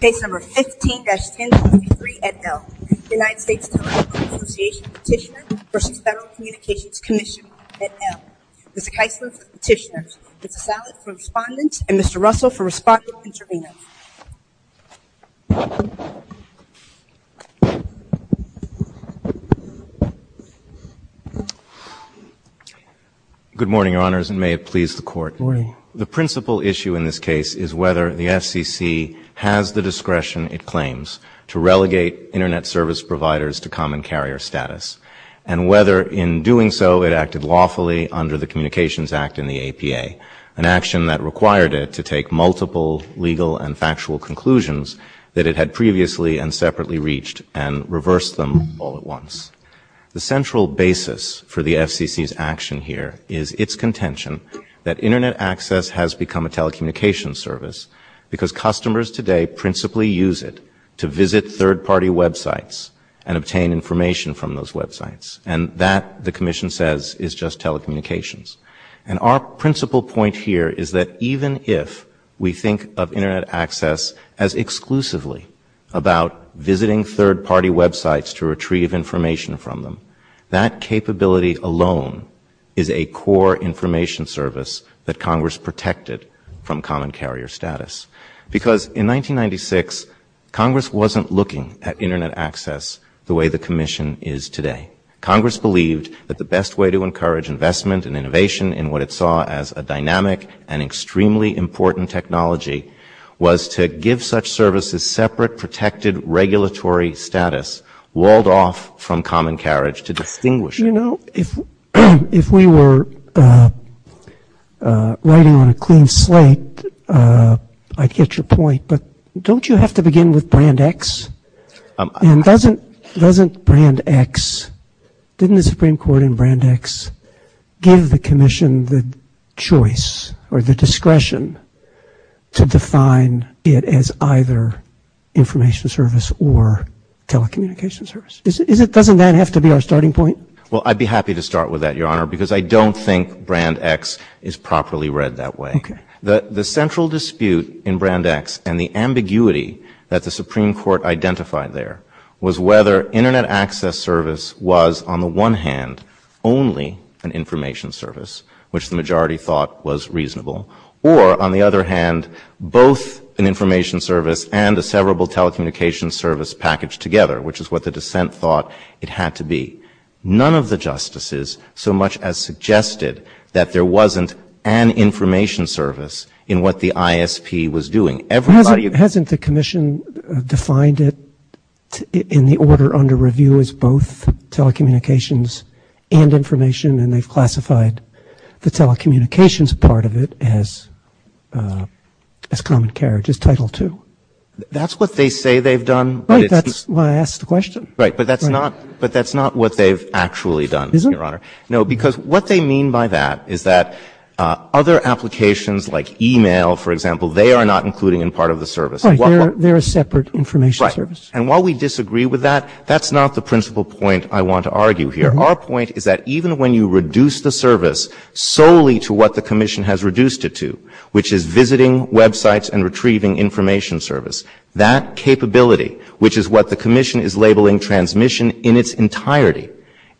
Case No. 15-N23, et al. United States Telecom Association Petitioners v. Federal Communications Commissioners, et al. Mr. Keisler for Petitioners, Mr. Salas for Respondents, and Mr. Russell for Respondents and Interveners. Good morning, Your Honors, and may it please the Court. Good morning. The principal issue in this case is whether the FCC has the discretion it claims to relegate Internet service providers to common carrier status, and whether in doing so it acted lawfully under the Communications Act and the APA, an action that required it to take multiple legal and factual conclusions that it had previously and separately reached and reverse them all at once. The central basis for the FCC's action here is its contention that Internet access has become a telecommunications service because customers today principally use it to visit third-party websites and obtain information from those websites. And that, the Commission says, is just telecommunications. And our principal point here is that even if we think of Internet access as exclusively about visiting third-party websites to retrieve information from them, that capability alone is a core information service that Congress protected from common carrier status. Because in 1996, Congress wasn't looking at Internet access the way the Commission is today. Congress believed that the best way to encourage investment and innovation in what it saw as a dynamic and extremely important technology was to give such services separate protected regulatory status walled off from common carriage to distinguish it. I get your point, but don't you have to begin with Brand X? And doesn't Brand X, didn't the Supreme Court in Brand X give the Commission the choice or the discretion to define it as either information service or telecommunications service? Doesn't that have to be our starting point? Well, I'd be happy to start with that, Your Honor, because I don't think Brand X is properly read that way. The central dispute in Brand X and the ambiguity that the Supreme Court identified there was whether Internet access service was, on the one hand, only an information service, which the majority thought was reasonable, or, on the other hand, both an information service and a severable telecommunications service packaged together, which is what the dissent thought it had to be. None of the justices so much as suggested that there wasn't an information service in what the ISP was doing. Hasn't the Commission defined it in the order under review as both telecommunications and information, and they've classified the telecommunications part of it as common carriage, as Title II? That's what they say they've done. Right, but that's not what they've actually done, Your Honor. No, because what they mean by that is that other applications like e-mail, for example, they are not included in part of the service. Right, they're a separate information service. Right, and while we disagree with that, that's not the principal point I want to argue here. Our point is that even when you reduce the service solely to what the Commission has reduced it to, which is visiting websites and retrieving information service, that capability, which is what the Commission is labeling transmission in its entirety,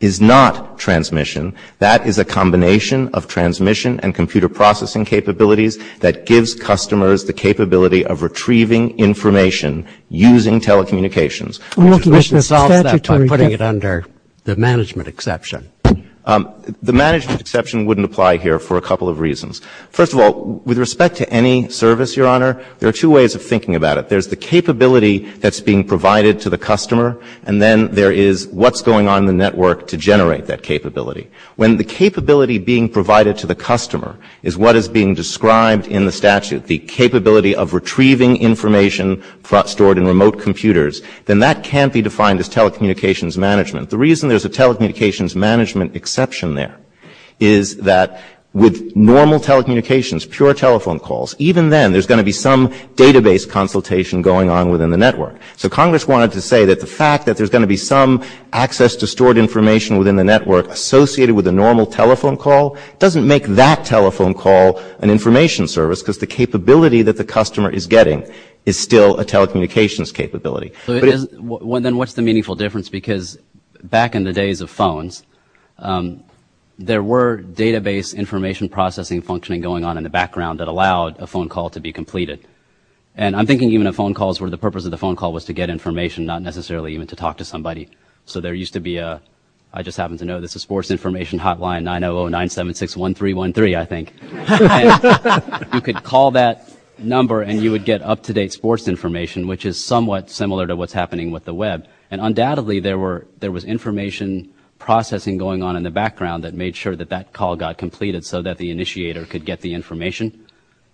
is not transmission. That is a combination of transmission and computer processing capabilities that gives customers the capability of retrieving information using telecommunications. The Commission has solved that by putting it under the management exception. The management exception wouldn't apply here for a couple of reasons. First of all, with respect to any service, Your Honor, there are two ways of thinking about it. There's the capability that's being provided to the customer, and then there is what's going on in the network to generate that capability. When the capability being provided to the customer is what is being described in the statute, the capability of retrieving information stored in remote computers, then that can't be defined as telecommunications management. The reason there's a telecommunications management exception there is that with normal telecommunications, pure telephone calls, even then there's going to be some database consultation going on within the network. So Congress wanted to say that the fact that there's going to be some access to stored information within the network associated with a normal telephone call doesn't make that telephone call an information service because the capability that the customer is getting is still a telecommunications capability. Then what's the meaningful difference? Because back in the days of phones, there were database information processing functioning going on in the background that allowed a phone call to be completed. And I'm thinking even of phone calls where the purpose of the phone call was to get information, not necessarily even to talk to somebody. So there used to be a, I just happen to know this, a sports information hotline, 900-976-1313, I think. You could call that number and you would get up-to-date sports information, which is somewhat similar to what's happening with the web. And undoubtedly there was information processing going on in the background that made sure that that call got completed so that the initiator could get the information.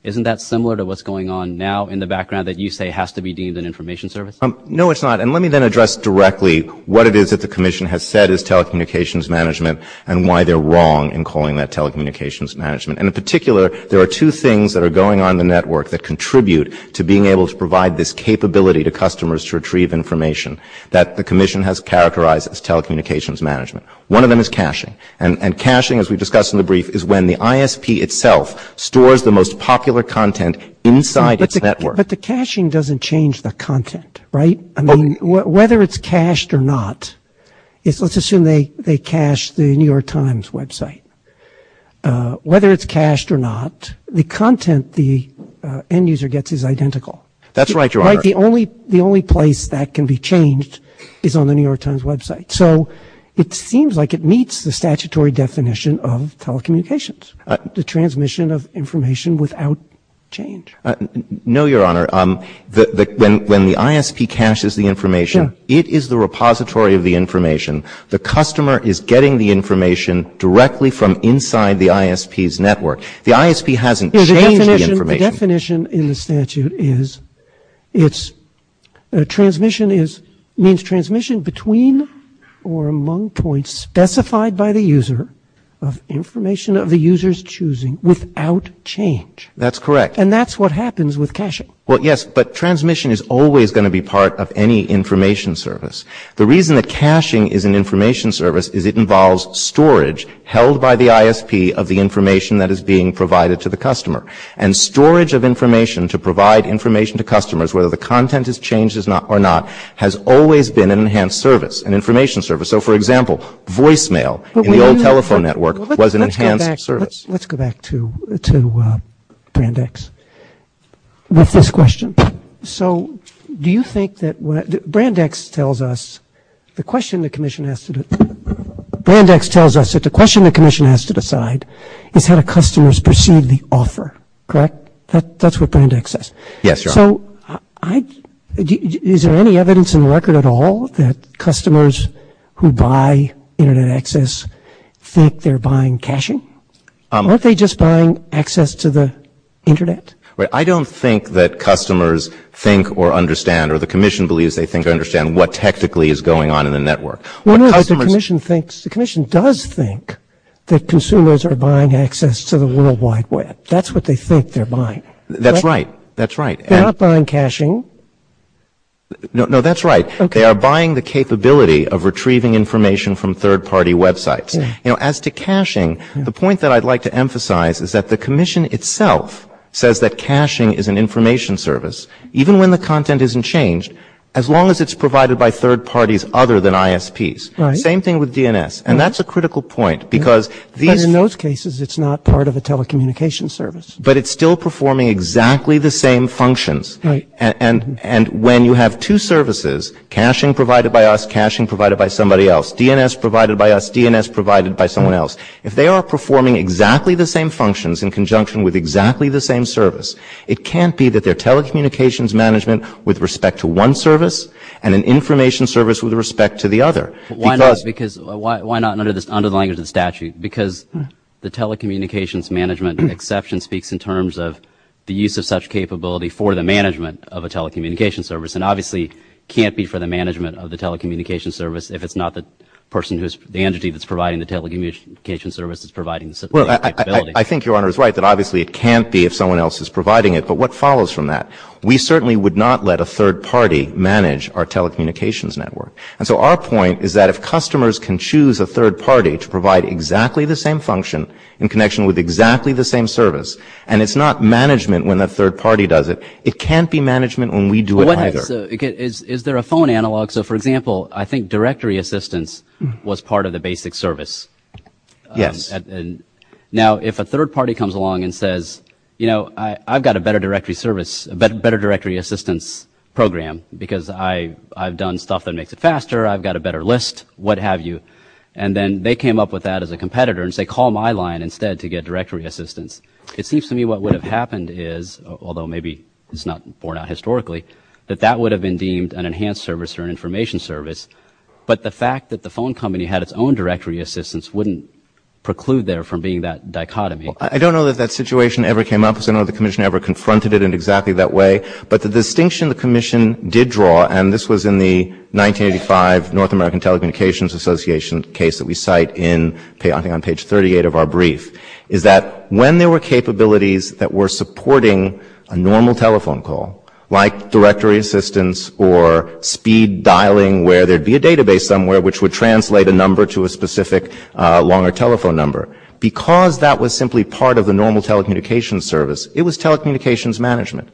Isn't that similar to what's going on now in the background that you say has to be deemed an information service? No, it's not. And let me then address directly what it is that the commission has said is telecommunications management and why they're wrong in calling that telecommunications management. And in particular, there are two things that are going on in the network that contribute to being able to provide this capability to customers to retrieve information that the commission has characterized as telecommunications management. One of them is caching. And caching, as we discussed in the brief, is when the ISP itself stores the most popular content inside its network. But the caching doesn't change the content, right? I mean, whether it's cached or not, let's assume they cache the New York Times website. Whether it's cached or not, the content the end user gets is identical. That's right, Your Honor. The only place that can be changed is on the New York Times website. So it seems like it meets the statutory definition of telecommunications, the transmission of information without change. No, Your Honor. When the ISP caches the information, it is the repository of the information. The customer is getting the information directly from inside the ISP's network. The ISP hasn't changed the information. The definition in the statute is transmission between or among points specified by the user of information of the user's choosing without change. That's correct. And that's what happens with caching. Well, yes, but transmission is always going to be part of any information service. The reason that caching is an information service is it involves storage held by the ISP of the information that is being provided to the customer. And storage of information to provide information to customers, whether the content has changed or not, has always been an enhanced service, an information service. So, for example, voicemail in the old telephone network was an enhanced service. Let's go back to Brandeis with this question. So do you think that Brandeis tells us that the question the commission has to decide is how the customers perceive the offer, correct? That's what Brandeis says. Yes, Your Honor. So is there any evidence in the record at all that customers who buy Internet access think they're buying caching? Aren't they just buying access to the Internet? I don't think that customers think or understand or the commission believes they think or understand what technically is going on in the network. The commission does think that consumers are buying access to the World Wide Web. That's what they think they're buying. That's right. They're not buying caching. No, that's right. They are buying the capability of retrieving information from third-party websites. As to caching, the point that I'd like to emphasize is that the commission itself says that caching is an information service, even when the content isn't changed, as long as it's provided by third parties other than ISPs. Same thing with DNS. And that's a critical point. But in those cases, it's not part of a telecommunication service. But it's still performing exactly the same functions. And when you have two services, caching provided by us, caching provided by somebody else, DNS provided by us, DNS provided by someone else, if they are performing exactly the same functions in conjunction with exactly the same service, it can't be that they're telecommunications management with respect to one service and an information service with respect to the other. Why not under the language of statute? Because the telecommunications management exception speaks in terms of the use of such capability for the management of a telecommunications service and obviously can't be for the management of the telecommunications service if it's not the entity that's providing the telecommunications service that's providing the capability. I think Your Honor is right that obviously it can't be if someone else is providing it. But what follows from that? We certainly would not let a third party manage our telecommunications network. And so our point is that if customers can choose a third party to provide exactly the same function in connection with exactly the same service, and it's not management when the third party does it, it can't be management when we do it either. Is there a phone analog? So, for example, I think directory assistance was part of the basic service. Yes. Now, if a third party comes along and says, you know, I've got a better directory service, a better directory assistance program because I've done stuff that makes it faster, I've got a better list, what have you, and then they came up with that as a competitor and say call my line instead to get directory assistance. It seems to me what would have happened is, although maybe it's not borne out historically, that that would have been deemed an enhanced service or an information service. But the fact that the phone company had its own directory assistance wouldn't preclude there from being that dichotomy. I don't know that that situation ever came up. I don't know if the commission ever confronted it in exactly that way. But the distinction the commission did draw, and this was in the 1985 North American Telecommunications Association case that we cite on page 38 of our brief, is that when there were capabilities that were supporting a normal telephone call, like directory assistance or speed dialing where there'd be a database somewhere which would translate a number to a specific longer telephone number, because that was simply part of the normal telecommunications service, it was telecommunications management.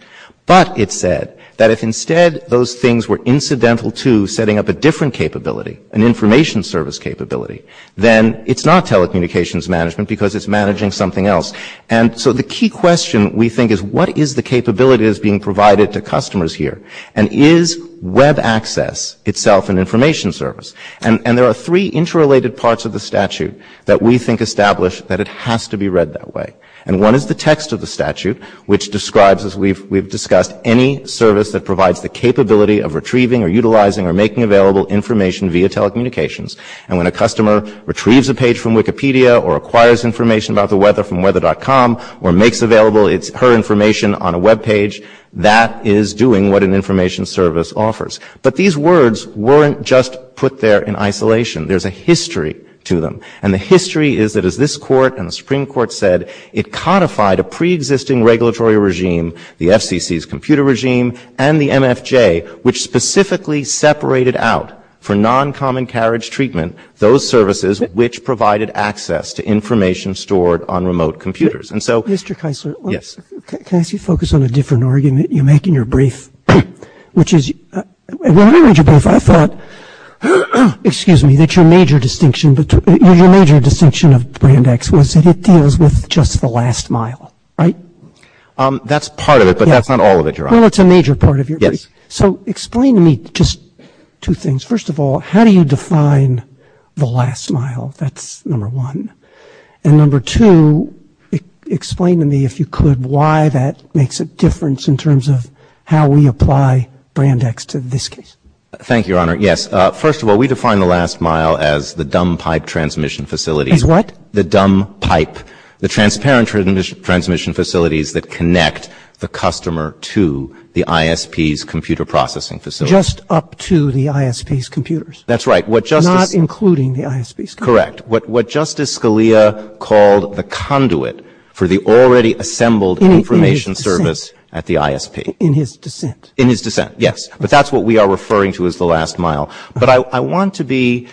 But it said that if instead those things were incidental to setting up a different capability, an information service capability, then it's not telecommunications management because it's managing something else. And so the key question we think is, what is the capability that's being provided to customers here? And is web access itself an information service? And there are three interrelated parts of the statute that we think establish that it has to be read that way. And one is the text of the statute, which describes, as we've discussed, any service that provides the capability of retrieving or utilizing or making available information via telecommunications. And when a customer retrieves a page from Wikipedia or acquires information about the weather from weather.com or makes available her information on a web page, that is doing what an information service offers. But these words weren't just put there in isolation. There's a history to them. And the history is that as this court and the Supreme Court said, it codified a preexisting regulatory regime, the FCC's computer regime and the MFJ, which specifically separated out for non-common carriage treatment, those services which provided access to information stored on remote computers. And so... Mr. Keisler. Yes. Can I just focus on a different argument you make in your brief, which is... In your brief, I thought, excuse me, that your major distinction, your major distinction of Brandeis was that it deals with just the last mile, right? That's part of it, but that's not all of it, Your Honor. Well, it's a major part of your brief. Yes. So explain to me just two things. First of all, how do you define the last mile? That's number one. And number two, explain to me, if you could, why that makes a difference in terms of how we apply Brandeis to this case. Thank you, Your Honor. Yes. First of all, we define the last mile as the dumb pipe transmission facility. As what? The dumb pipe, the transparent transmission facilities that connect the customer to the ISP's computer processing facility. Just up to the ISP's computers. That's right. Not including the ISP's computers. Correct. What Justice Scalia called the conduit for the already assembled information service at the ISP. In his dissent. In his dissent, yes. But that's what we are referring to as the last mile. But I want to be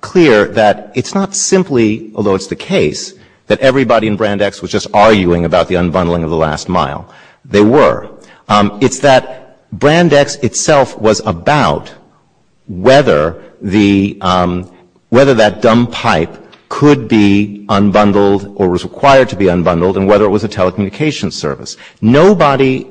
clear that it's not simply, although it's the case, that everybody in Brandeis was just arguing about the unbundling of the last mile. They were. It's that Brandeis itself was about whether that dumb pipe could be unbundled or was required to be unbundled and whether it was a telecommunications service. Nobody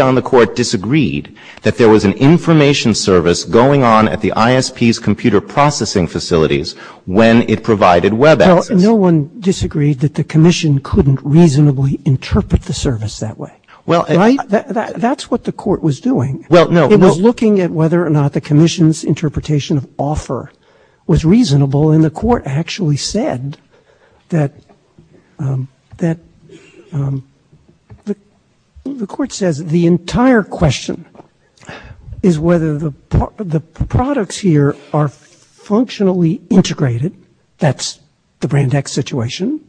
on the court disagreed that there was an information service going on at the ISP's computer processing facilities when it provided web access. No one disagreed that the commission couldn't reasonably interpret the service that way. That's what the court was doing. It was looking at whether or not the commission's interpretation of offer was reasonable and the court actually said that the entire question is whether the products here are functionally integrated. That's the Brandeis situation.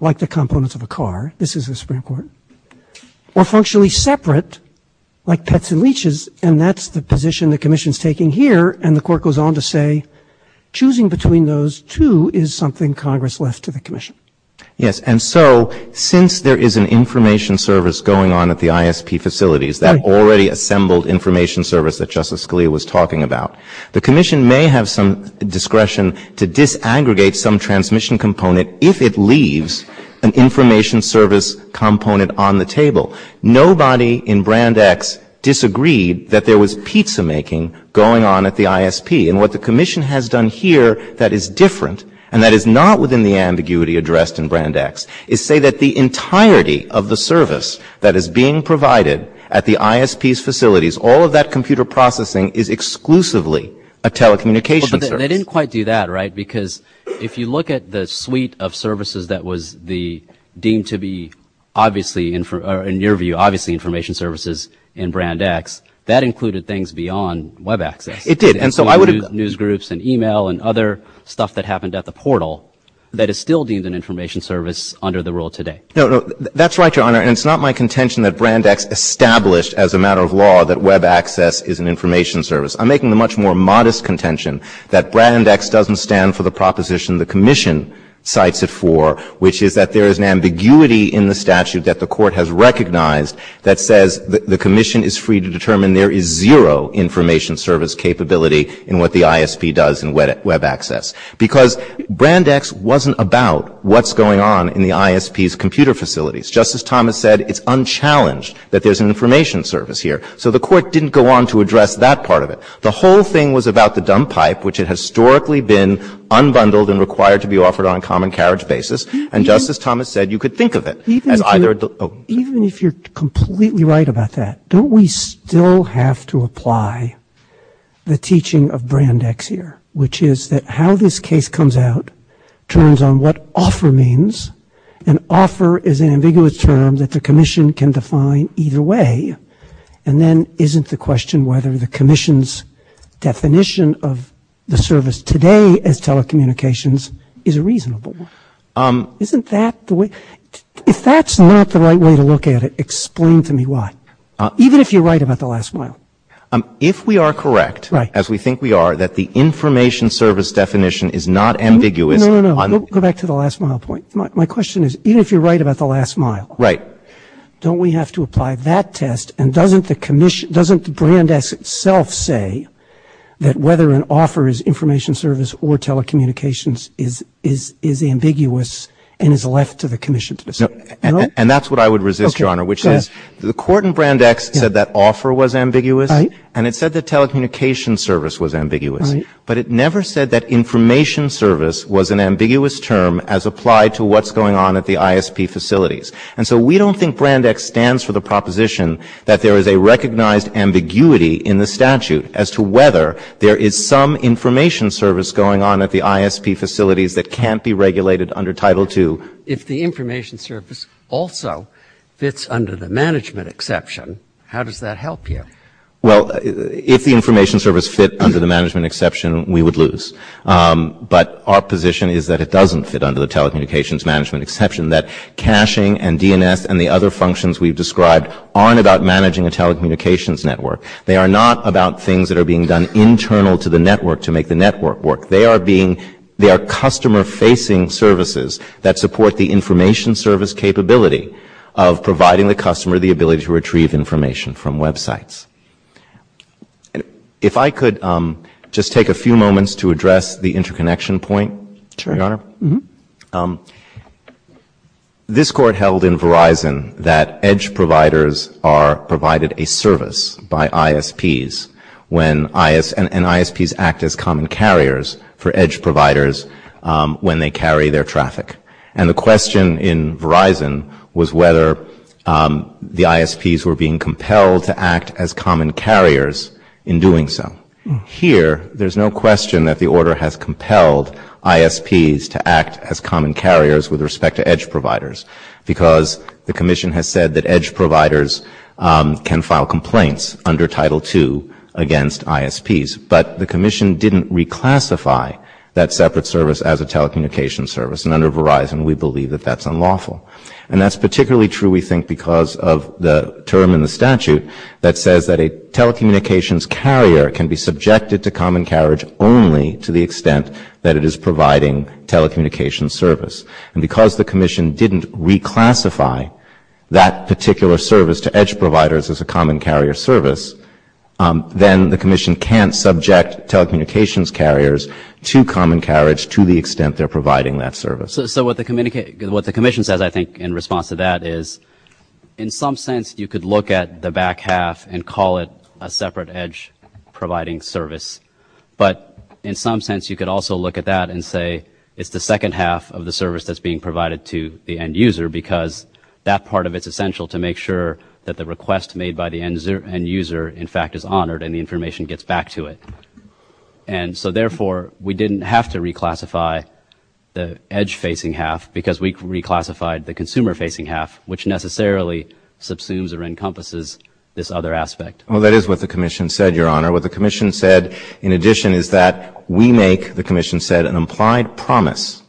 Like the components of a car. This is the Supreme Court. Or functionally separate like pets and leeches and that's the position the commission is taking here and the court goes on to say choosing between those two is something Congress left to the commission. Since there is an information service going on at the ISP facilities, that already assembled information service that Justice Scalia was talking about, the commission may have some discretion to disaggregate some transmission component if it leaves an information service component on the table. Nobody in Brandeis disagreed that there was pizza making going on at the ISP and what the commission has done here that is different and that is not within the ambiguity addressed in Brandeis is say that the entirety of the service that is being provided at the ISP's facilities, all of that computer processing is exclusively a telecommunications service. You didn't quite do that, right? Because if you look at the suite of services that was deemed to be obviously in your view, obviously information services in Brandeis, that included things beyond Web access. It did. News groups and email and other stuff that happened at the portal that is still deemed an information service under the rule today. That's right, Your Honor. It's not my contention that Brandeis established as a matter of law that Web access is an information service. I'm making a much more modest contention that Brandeis doesn't stand for the proposition the commission cites it for, which is that there is an ambiguity in the statute that the court has recognized that says the commission is free to determine there is zero information service capability in what the ISP does in Web access. Because Brandeis wasn't about what's going on in the ISP's computer facilities. Just as Thomas said, it's unchallenged that there's an information service here. So the court didn't go on to address that part of it. The whole thing was about the dump pipe, which has historically been unbundled and required to be offered on a common carriage basis. And just as Thomas said, you could think of it. Even if you're completely right about that, don't we still have to apply the teaching of Brandeis here, which is that how this case comes out turns on what offer means. An offer is an ambiguous term that the commission can define either way. And then isn't the question whether the commission's definition of the service today as telecommunications is reasonable? If that's not the right way to look at it, explain to me why, even if you're right about the last mile. If we are correct, as we think we are, that the information service definition is not ambiguous... No, no, no, go back to the last mile point. My question is even if you're right about the last mile, don't we have to apply that test and doesn't Brandeis itself say that whether an offer is information service or telecommunications is ambiguous and is left to the commission to decide? And that's what I would resist, Your Honor, which is the court in Brandeis said that offer was ambiguous and it said that telecommunications service was ambiguous. But it never said that information service was an ambiguous term as applied to what's going on at the ISP facilities. And so we don't think Brandeis stands for the proposition that there is a recognized ambiguity in the statute as to whether there is some information service going on at the ISP facilities that can't be regulated under Title II. If the information service also fits under the management exception, how does that help you? Well, if the information service fit under the management exception, we would lose. But our position is that it doesn't fit under the telecommunications management exception, that caching and DNS and the other functions we've described aren't about managing a telecommunications network. They are not about things that are being done internal to the network to make the network work. They are customer-facing services that support the information service capability of providing the customer the ability to retrieve information from websites. If I could just take a few moments to address the interconnection point, Your Honor. This Court held in Verizon that EDGE providers are provided a service by ISPs and ISPs act as common carriers for EDGE providers when they carry their traffic. And the question in Verizon was whether the ISPs were being compelled to act as common carriers in doing so. Here, there's no question that the order has compelled ISPs to act as common carriers with respect to EDGE providers because the Commission has said that EDGE providers can file complaints under Title II against ISPs. But the Commission didn't reclassify that separate service as a telecommunications service. And under Verizon, we believe that that's unlawful. And that's particularly true, we think, because of the term in the statute that says that a telecommunications carrier can be subjected to common carriage only to the extent that it is providing telecommunications service. And because the Commission didn't reclassify that particular service to EDGE providers as a common carrier service, then the Commission can't subject telecommunications carriers to common carriage to the extent they're providing that service. So what the Commission says, I think, in response to that is, in some sense, you could look at the back half and call it a separate EDGE-providing service. But in some sense, you could also look at that and say, it's the second half of the service that's being provided to the end user because that part of it's essential to make sure that the request made by the end user, in fact, is honored and the information gets back to it. And so, therefore, we didn't have to reclassify the EDGE-facing half because we reclassified the consumer-facing half, which necessarily subsumes or encompasses this other aspect. Well, that is what the Commission said, Your Honor. What the Commission said, in addition, is that we make, the Commission said, an implied promise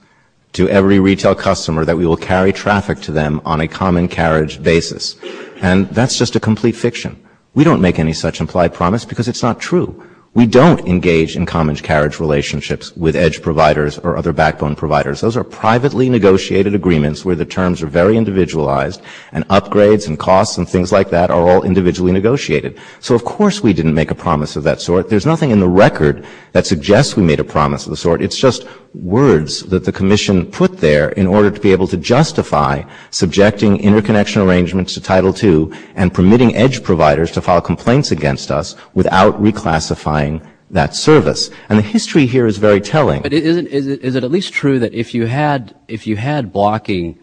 to every retail customer that we will carry traffic to them on a common carriage basis. And that's just a complete fiction. We don't make any such implied promise because it's not true. We don't engage in common carriage relationships with EDGE providers or other backbone providers. Those are privately negotiated agreements where the terms are very individualized and upgrades and costs and things like that are all individually negotiated. So, of course, we didn't make a promise of that sort. There's nothing in the record that suggests we made a promise of the sort. It's just words that the Commission put there in order to be able to justify subjecting interconnection arrangements to Title II and permitting EDGE providers to file complaints against us without reclassifying that service. And the history here is very telling. But is it at least true that if you had blocking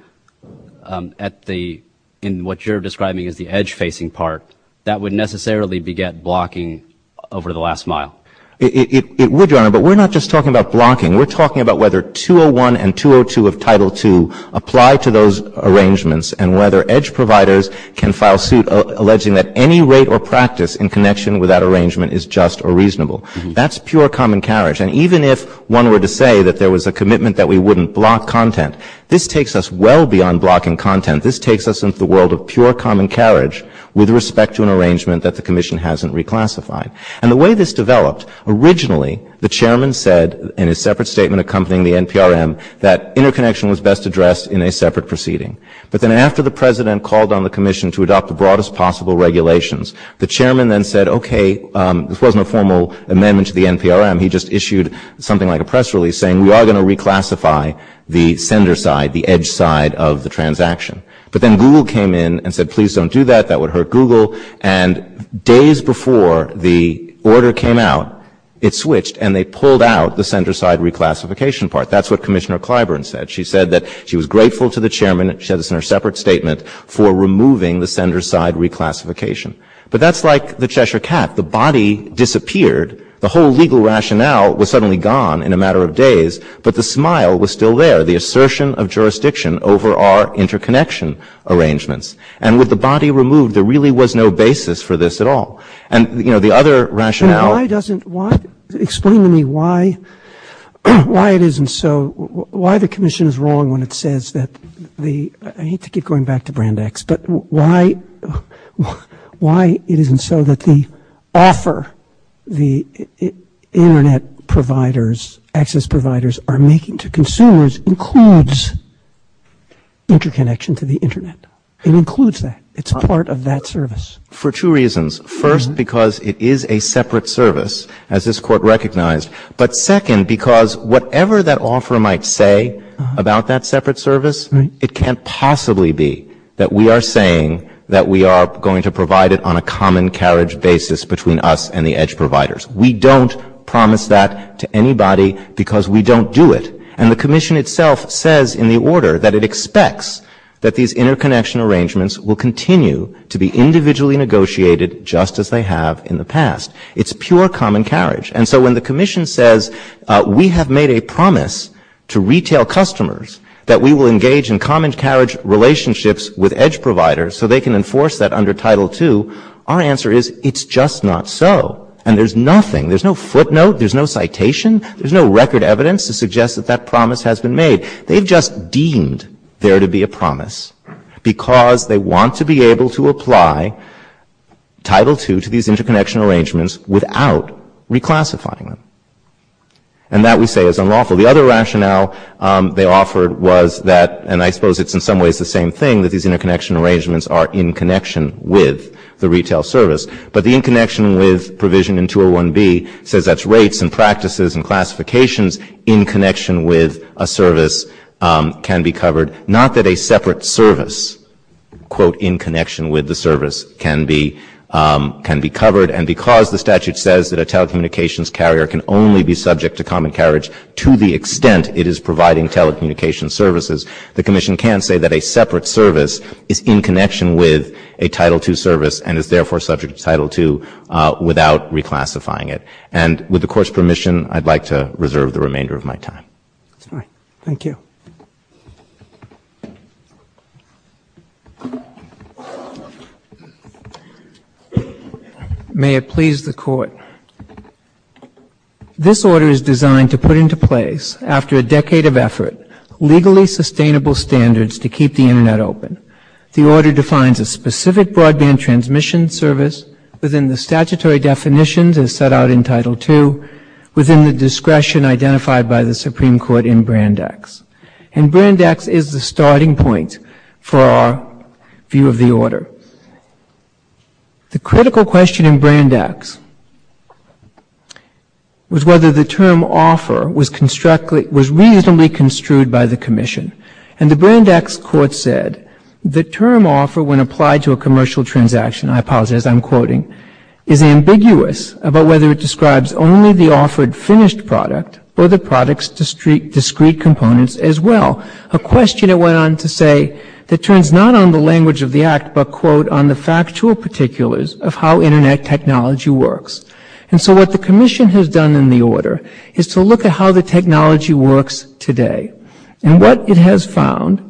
in what you're describing as the EDGE-facing part, that would necessarily beget blocking over the last mile? It would, Your Honor, but we're not just talking about blocking. We're talking about whether 201 and 202 of Title II apply to those arrangements and whether EDGE providers can file suit alleging that any rate or practice in connection with that arrangement is just or reasonable. That's pure common carriage. And even if one were to say that there was a commitment that we wouldn't block content, this takes us well beyond blocking content. This takes us into the world of pure common carriage with respect to an arrangement that the Commission hasn't reclassified. And the way this developed, originally the Chairman said in a separate statement accompanying the NPRM that interconnection was best addressed in a separate proceeding. But then after the President called on the Commission to adopt the broadest possible regulations, the Chairman then said, okay, this wasn't a formal amendment to the NPRM. He just issued something like a press release saying we are going to reclassify the sender side, the EDGE side of the transaction. But then Google came in and said, please don't do that. That would hurt Google. And days before the order came out, it switched, and they pulled out the sender side reclassification part. That's what Commissioner Clyburn said. She said that she was grateful to the Chairman, she said this in her separate statement, for removing the sender side reclassification. But that's like the Cheshire cat. The body disappeared. The whole legal rationale was suddenly gone in a matter of days, but the smile was still there, the assertion of jurisdiction over our interconnection arrangements. And with the body removed, there really was no basis for this at all. And, you know, the other rationale... Explain to me why it isn't so, why the Commission is wrong when it says that the, I hate to keep going back to Brand X, but why it isn't so that the offer the Internet providers, access providers are making to consumers includes interconnection to the Internet. It includes that. It's part of that service. For two reasons. First, because it is a separate service, as this court recognized. But second, because whatever that offer might say about that separate service, it can't possibly be that we are saying that we are going to provide it on a common carriage basis between us and the edge providers. We don't promise that to anybody because we don't do it. And the Commission itself says in the order that it expects that these interconnection arrangements will continue to be individually negotiated just as they have in the past. It's pure common carriage. And so when the Commission says we have made a promise to retail customers that we will engage in common carriage relationships with edge providers so they can enforce that under Title II, our answer is it's just not so. And there's nothing, there's no footnote, there's no citation, there's no record evidence to suggest that that promise has been made. They've just deemed there to be a promise because they want to be able to apply Title II to these interconnection arrangements without reclassifying them. And that we say is unlawful. So the other rationale they offered was that, and I suppose it's in some ways the same thing, that these interconnection arrangements are in connection with the retail service. But the in connection with provision in 201B says that's rates and practices and classifications in connection with a service can be covered, not that a separate service in connection with the service can be covered. And because the statute says that a telecommunications carrier can only be subject to common carriage to the extent it is providing telecommunications services, the Commission can say that a separate service is in connection with a Title II service and is therefore subject to Title II without reclassifying it. And with the Court's permission, I'd like to reserve the remainder of my time. Thank you. May it please the Court. This order is designed to put into place, after a decade of effort, legally sustainable standards to keep the Internet open. The order defines a specific broadband transmission service within the statutory definitions as set out in Title II, within the discretion identified by the Supreme Court in Brandeis. And Brandeis is the starting point for our view of the order. The critical question in Brandeis was whether the term offer was reasonably construed by the Commission. And the Brandeis Court said the term offer, when applied to a commercial transaction, I apologize, I'm quoting, is ambiguous about whether it describes only the offered finished product or the product's discrete components as well, a question it went on to say that turns not on the language of the Act but, quote, on the factual particulars of how Internet technology works. And so what the Commission has done in the order is to look at how the technology works today. And what it has found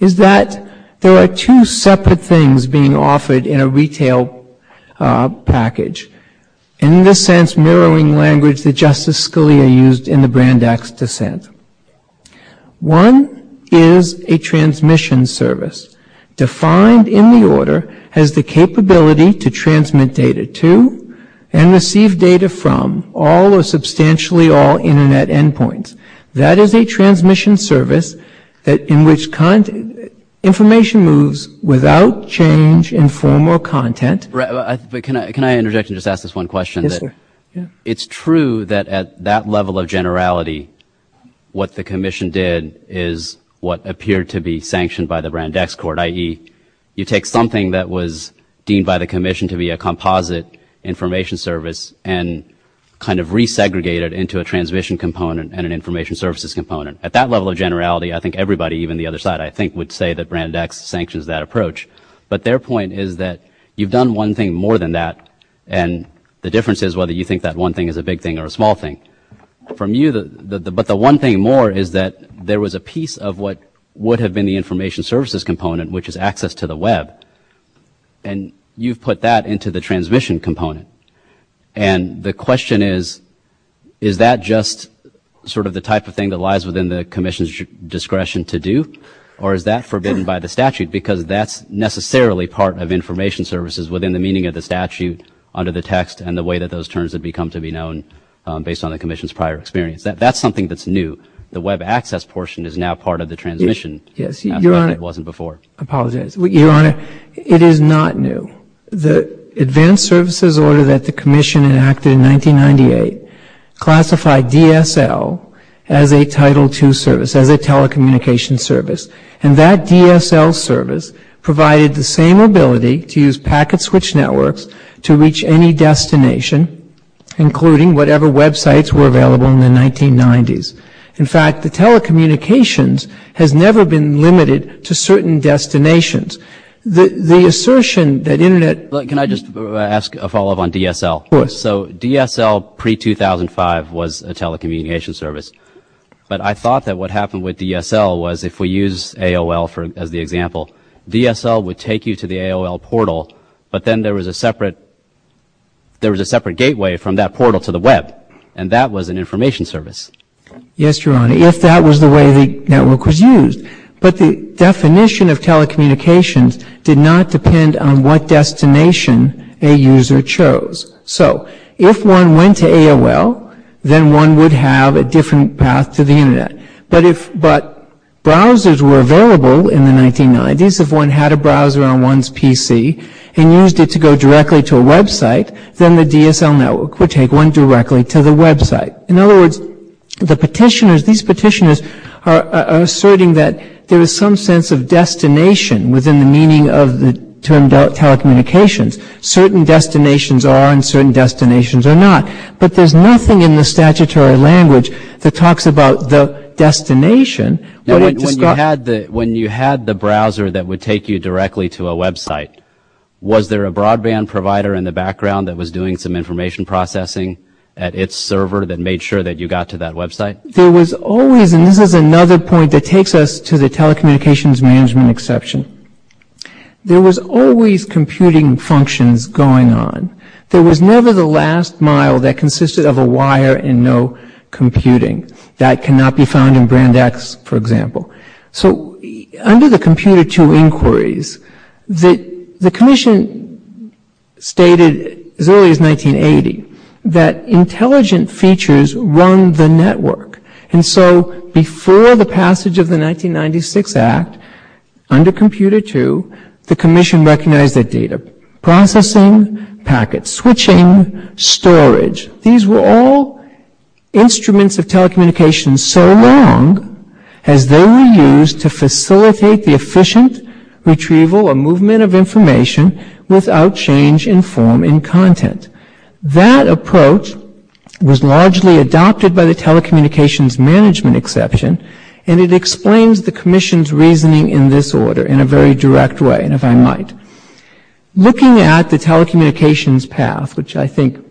is that there are two separate things being offered in a retail package. In this sense, mirroring language that Justice Scalia used in the Brandeis dissent. One is a transmission service defined in the order as the capability to transmit data to and receive data from all or substantially all Internet endpoints. That is a transmission service in which information moves without change in form or content. Can I interject and just ask this one question? Yes, sir. It's true that at that level of generality, what the Commission did is what appeared to be sanctioned by the Brandeis Court, i.e., you take something that was deemed by the Commission to be a composite information service and kind of re-segregated into a transmission component and an information services component. At that level of generality, I think everybody, even the other side, I think would say that Brandeis sanctions that approach. But their point is that you've done one thing more than that. And the difference is whether you think that one thing is a big thing or a small thing. But the one thing more is that there was a piece of what would have been the information services component, which is access to the Web. And you've put that into the transmission component. And the question is, is that just sort of the type of thing that lies within the Commission's discretion to do? Or is that forbidden by the statute? Because that's necessarily part of information services within the meaning of the statute under the text and the way that those terms have become to be known based on the Commission's prior experience. That's something that's new. The Web access portion is now part of the transmission. It wasn't before. I apologize. Your Honor, it is not new. The advanced services order that the Commission enacted in 1998 classified DSL as a Title II service, as a telecommunications service. And that DSL service provided the same ability to use packet switch networks to reach any destination, including whatever Web sites were available in the 1990s. In fact, the telecommunications has never been limited to certain destinations. The assertion that Internet – Look, can I just ask a follow-up on DSL? Of course. So DSL pre-2005 was a telecommunications service. But I thought that what happened with DSL was if we use AOL as the example, DSL would take you to the AOL portal, but then there was a separate gateway from that portal to the Web, and that was an information service. Yes, Your Honor. Yes, that was the way the network was used. But the definition of telecommunications did not depend on what destination a user chose. So if one went to AOL, then one would have a different path to the Internet. But if – but browsers were available in the 1990s. If one had a browser on one's PC and used it to go directly to a Web site, then the DSL network would take one directly to the Web site. In other words, the petitioners – these petitioners are asserting that there is some sense of destination within the meaning of the term telecommunications. Certain destinations are and certain destinations are not. But there's nothing in the statutory language that talks about the destination. When you had the browser that would take you directly to a Web site, was there a broadband provider in the background that was doing some information processing at its server that made sure that you got to that Web site? There was always – and this is another point that takes us to the telecommunications management exception. There was always computing functions going on. There was never the last mile that consisted of a wire and no computing. That cannot be found in Brand X, for example. Under the Computer II inquiries, the Commission stated as early as 1980 that intelligent features run the network. Before the passage of the 1996 Act, under Computer II, the Commission recognized that data processing, packets, switching, storage – these were all instruments of telecommunications and so long as they were used to facilitate the efficient retrieval or movement of information without change in form and content. That approach was largely adopted by the telecommunications management exception and it explains the Commission's reasoning in this order in a very direct way, if I might. Looking at the telecommunications path, which I think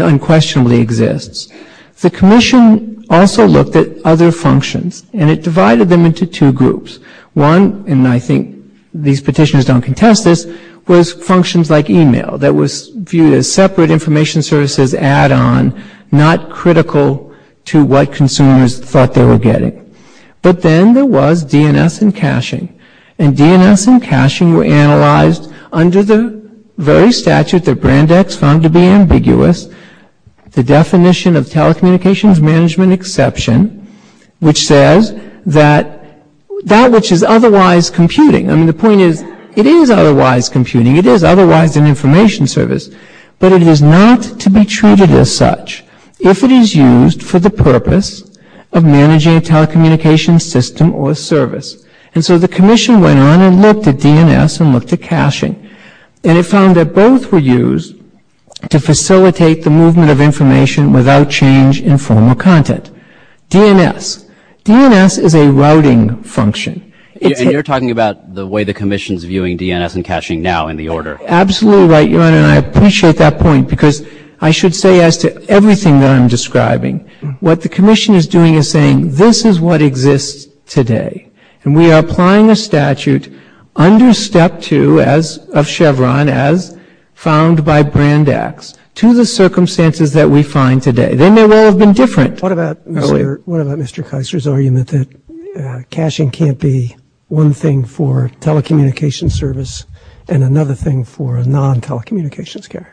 unquestionably exists, the Commission also looked at other functions and it divided them into two groups. One, and I think these petitioners don't contest this, was functions like email that was viewed as separate information services add-on, not critical to what consumers thought they were getting. But then there was DNS and caching. And DNS and caching were analyzed under the very statute that Brand X found to be ambiguous. The definition of telecommunications management exception, which says that that which is otherwise computing, I mean the point is it is otherwise computing, it is otherwise an information service, but it is not to be treated as such if it is used for the purpose of managing a telecommunications system or service. And so the Commission went on and looked at DNS and looked at caching and it found that both were used to facilitate the movement of information without change in formal content. DNS. DNS is a routing function. And you're talking about the way the Commission is viewing DNS and caching now in the order. Absolutely right, Your Honor, and I appreciate that point because I should say as to everything that I'm describing, what the Commission is doing is saying this is what exists today. And we are applying the statute under Step 2 of Chevron as found by Brand X to the circumstances that we find today. They may well have been different. What about Mr. Kiser's argument that caching can't be one thing for telecommunications service and another thing for a non-telecommunications carrier?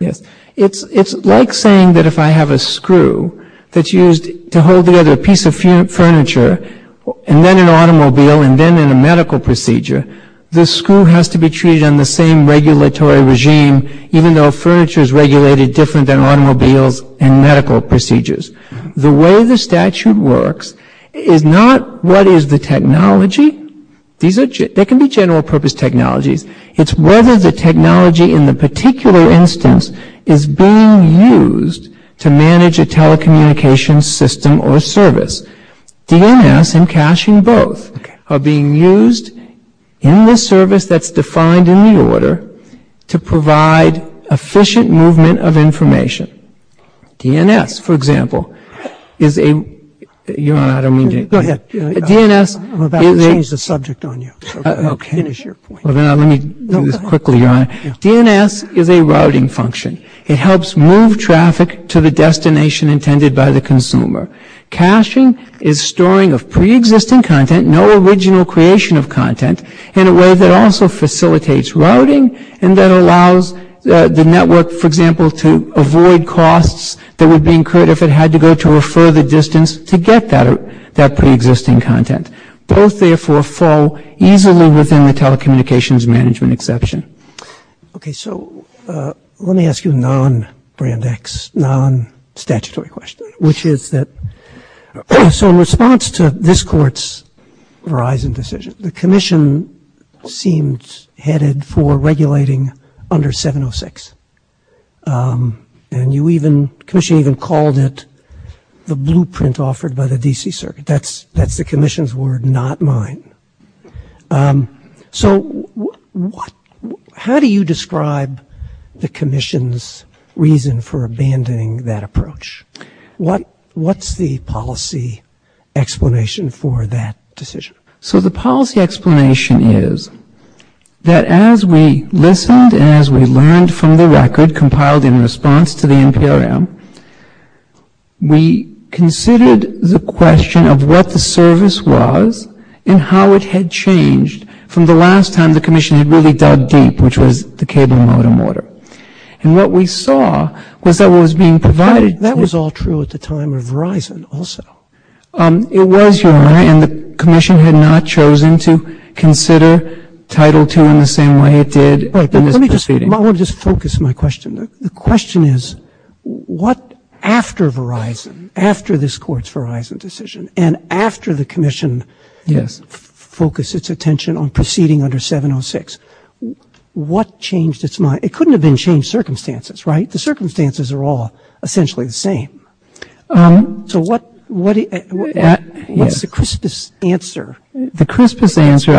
It's like saying that if I have a screw that's used to hold together a piece of furniture and then an automobile and then in a medical procedure, the screw has to be treated in the same regulatory regime even though furniture is regulated different than automobiles and medical procedures. The way the statute works is not what is the technology. There can be general purpose technologies. It's whether the technology in the particular instance is being used to manage a telecommunications system or service. DNS and caching both are being used in the service that's defined in the order to provide efficient movement of information. DNS, for example, is a routing function. It helps move traffic to the destination intended by the consumer. Caching is storing of pre-existing content, no original creation of content in a way that also facilitates routing and that allows the network, for example, to avoid costs that would be incurred if it had to go to a further distance to get that pre-existing content. Both, therefore, fall easily within the telecommunications management exception. Let me ask you a non-Brand X, non-statutory question, which is that in response to this court's Verizon decision, the commission seems headed for regulating under 706 and the commission even called it the blueprint offered by the DC circuit. That's the commission's word, not mine. So how do you describe the commission's reason for abandoning that approach? What's the policy explanation for that decision? So the policy explanation is that as we listened and as we learned from the record compiled in response to the NPRM, we considered the question of what the service was and how it had changed from the last time the commission had really dug deep, which was the cable modem order. And what we saw was that it was being provided. That was all true at the time of Verizon also. It was, Your Honor, and the commission had not chosen to consider Title II in the same way it did in this proceeding. Let me just focus my question. The question is what after Verizon, after this court's Verizon decision and after the commission focused its attention on proceeding under 706, what changed its mind? It couldn't have been changed circumstances, right? The circumstances are all essentially the same. So what's the crispest answer? The crispest answer,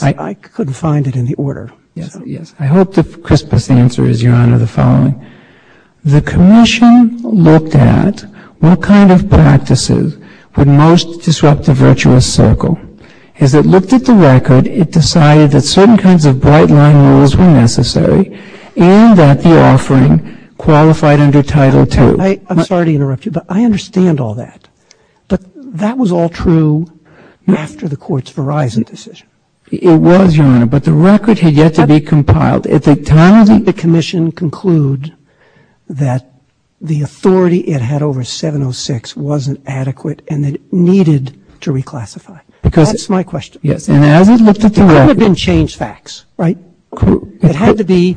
I couldn't find it in the order. I hope the crispest answer is, Your Honor, the following. The commission looked at what kind of practices would most disrupt the virtuous circle. As it looked at the record, it decided that certain kinds of bright-line rules were necessary and that the offering qualified under Title II. I'm sorry to interrupt you, but I understand all that. That was all true after the court's Verizon decision. It was, Your Honor, but the record had yet to be compiled. The commission concluded that the authority it had over 706 wasn't adequate and it needed to reclassify. That's my question. It couldn't have been changed facts, right? It had to be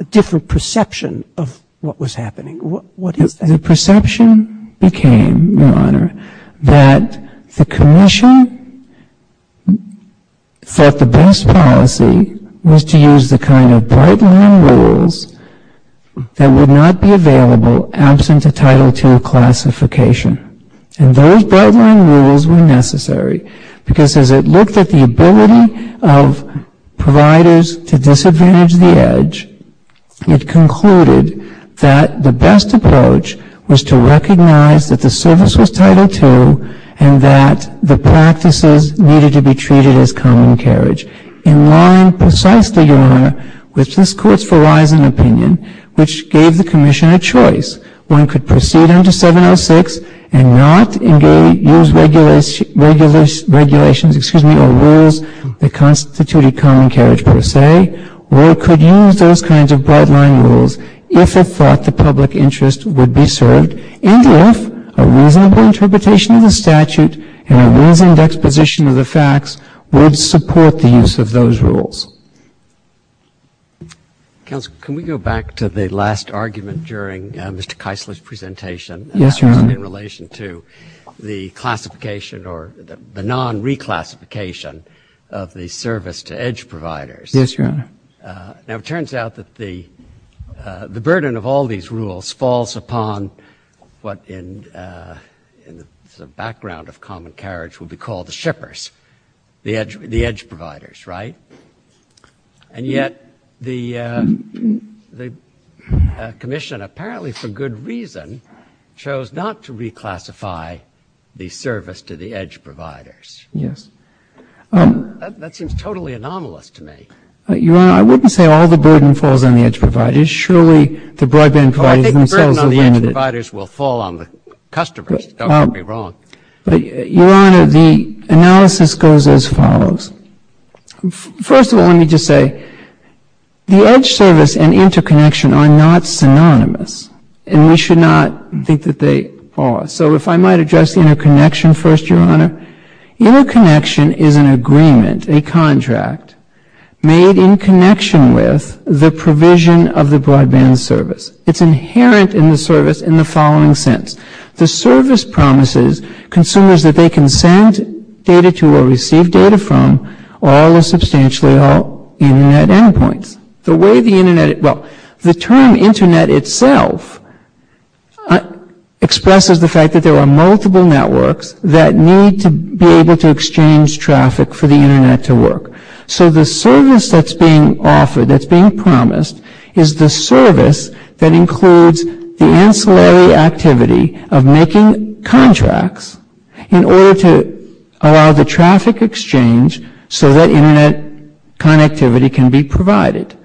a different perception of what was happening. The perception became, Your Honor, that the commission thought the best policy was to use the kind of bright-line rules that would not be available absent a Title II classification. And those bright-line rules were necessary because as it looked at the ability of providers to disadvantage the edge, it concluded that the best approach was to recognize that the service was Title II and that the practices needed to be treated as common carriage. And mine, precisely, Your Honor, was this court's Verizon opinion, which gave the commission a choice. One could proceed under 706 and not use regulations or rules that constituted common carriage, per se, or could use those kinds of bright-line rules if it thought the public interest would be served and if a reasonable interpretation of the statute and a reasonable exposition of the facts would support the use of those rules. Counsel, can we go back to the last argument during Mr. Keisler's presentation? Yes, Your Honor. In relation to the classification or the non-reclassification of the service to edge providers? Yes, Your Honor. Now it turns out that the burden of all these rules falls upon what in the background of common carriage would be called the shippers, the edge providers, right? And yet the commission, apparently for good reason, chose not to reclassify the service to the edge providers. Yes. That seems totally anomalous to me. Your Honor, I wouldn't say all the burden falls on the edge providers. Surely the broadband providers themselves would be in it. I think the burden on the edge providers will fall on the customers. Don't get me wrong. But, Your Honor, the analysis goes as follows. First of all, let me just say the edge service and interconnection are not synonymous, and we should not think that they are. So if I might address interconnection first, Your Honor. Interconnection is an agreement, a contract, made in connection with the provision of the broadband service. It's inherent in the service in the following sense. The service promises consumers that they can send data to or receive data from all or substantially all Internet endpoints. The way the Internet, well, the term Internet itself expresses the fact that there are multiple networks that need to be able to exchange traffic for the Internet to work. So the service that's being offered, that's being promised, is the service that includes the ancillary activity of making contracts in order to allow the traffic exchange so that Internet connectivity can be provided.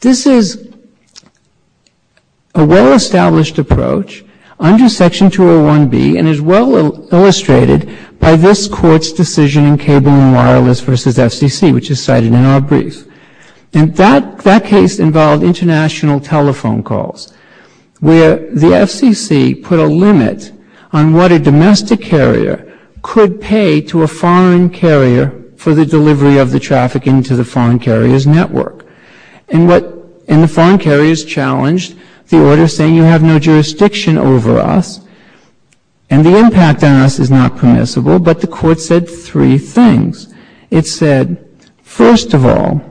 This is a well-established approach under Section 201B and is well illustrated by this Court's decision in Cable and Wireless v. FCC, which is cited in our brief. And that case involved international telephone calls where the FCC put a limit on what a domestic carrier could pay to a foreign carrier for the delivery of the traffic into the foreign carrier's network. And the foreign carrier is challenged, the order saying you have no jurisdiction over us, and the impact on us is not permissible, but the Court said three things. It said, first of all,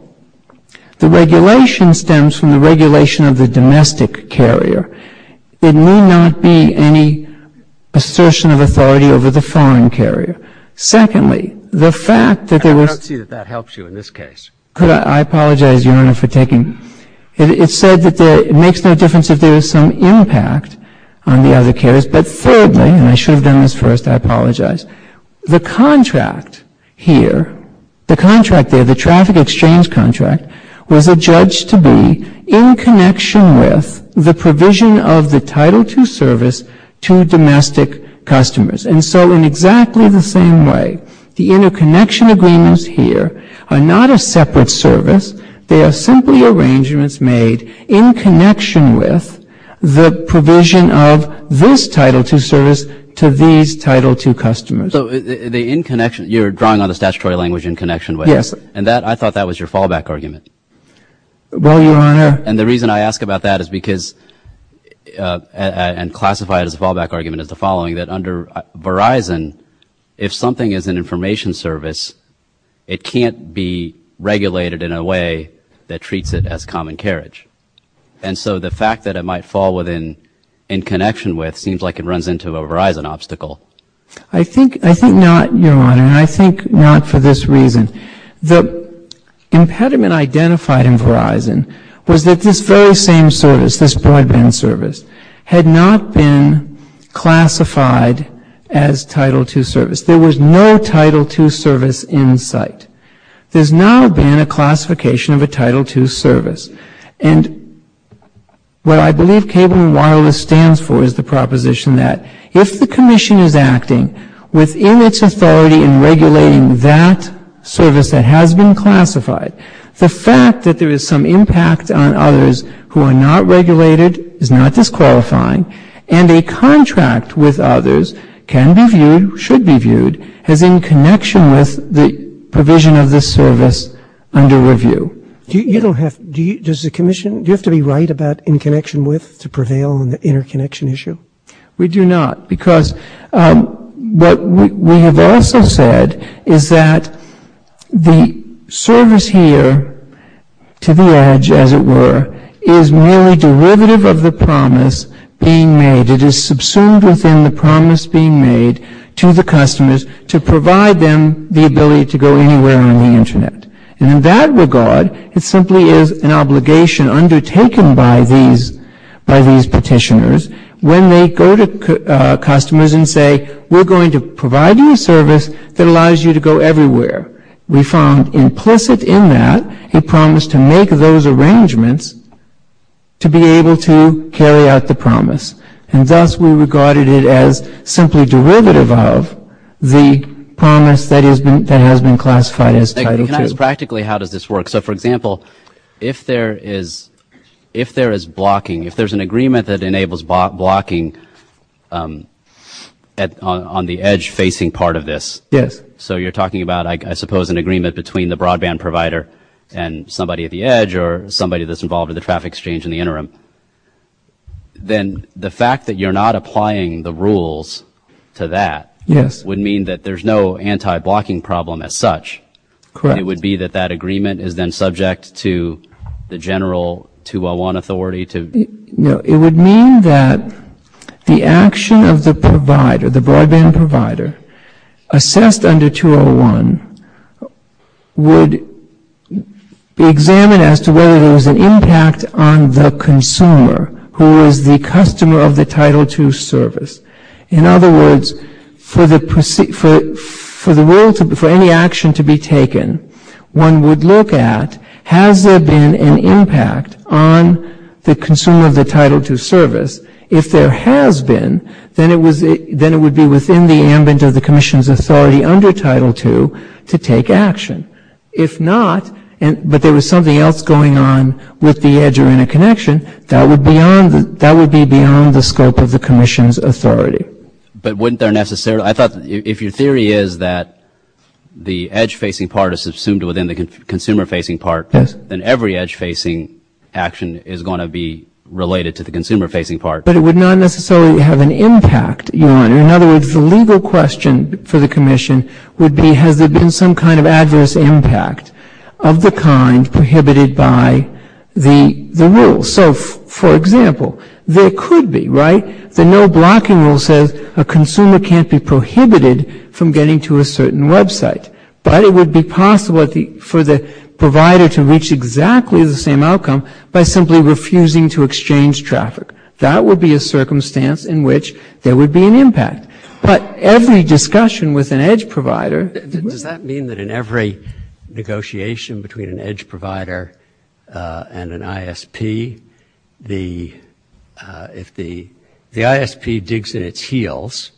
the regulation stems from the regulation of the domestic carrier. There may not be any assertion of authority over the foreign carrier. Secondly, the fact that there was... I don't see that that helps you in this case. I apologize, Your Honor, for taking... It said that it makes no difference if there is some impact on the other carriers, but thirdly, and I should have done this first, I apologize, the contract here, the contract there, the traffic exchange contract, was adjudged to be in connection with the provision of the Title II service to domestic customers. And so in exactly the same way, the interconnection agreements here are not a separate service. They are simply arrangements made in connection with the provision of this Title II service to these Title II customers. So the in connection, you're drawing on the statutory language in connection with this. Yes. And I thought that was your fallback argument. Well, Your Honor... And the reason I ask about that is because, and classify it as a fallback argument, is the following, that under Verizon, if something is an information service, it can't be regulated in a way that treats it as common carriage. And so the fact that it might fall within in connection with seems like it runs into a Verizon obstacle. I think not, Your Honor, and I think not for this reason. The impediment identified in Verizon was that this very same service, this broadband service, had not been classified as Title II service. There was no Title II service in sight. There's not been a classification of a Title II service. And what I believe cable and wireless stands for is the proposition that if the commission is acting within its authority in regulating that service that has been classified, the fact that there is some impact on others who are not regulated is not disqualifying and a contract with others can be viewed, should be viewed, as in connection with the provision of this service under review. You don't have to... Does the commission... Do you have to be right about in connection with to prevail on the interconnection issue? We do not. Because what we have also said is that the service here to the edge, as it were, is merely derivative of the promise being made. It is subsumed within the promise being made to the customers to provide them the ability to go anywhere on the Internet. And in that regard, it simply is an obligation undertaken by these petitioners when they go to customers and say, we're going to provide you a service that allows you to go everywhere. We found implicit in that a promise to make those arrangements to be able to carry out the promise. And thus we regarded it as simply derivative of the promise that has been classified as Title II. And that is practically how does this work. So, for example, if there is blocking, if there's an agreement that enables blocking on the edge-facing part of this, so you're talking about, I suppose, an agreement between the broadband provider and somebody at the edge or somebody that's involved with the traffic exchange in the interim, then the fact that you're not applying the rules to that would mean that there's no anti-blocking problem as such. Correct. It would be that that agreement is then subject to the general 201 authority to... No. It would mean that the action of the provider, the broadband provider, assessed under 201, would be examined as to whether there was an impact on the consumer who was the customer of the Title II service. In other words, for any action to be taken, one would look at has there been an impact on the consumer of the Title II service. If there has been, then it would be within the ambit of the Commission's authority under Title II to take action. If not, but there was something else going on with the edge or interconnection, that would be beyond the scope of the Commission's authority. But wouldn't there necessarily... I thought if your theory is that the edge-facing part is assumed within the consumer-facing part, then every edge-facing action is going to be related to the consumer-facing part. But it would not necessarily have an impact. In other words, the legal question for the Commission would be has there been some kind of adverse impact of the kind prohibited by the rules. So, for example, there could be, right? The no-blocking rule says a consumer can't be prohibited from getting to a certain website. But it would be possible for the provider to reach exactly the same outcome by simply refusing to exchange traffic. That would be a circumstance in which there would be an impact. But every discussion with an edge provider... If the ISP digs in its heels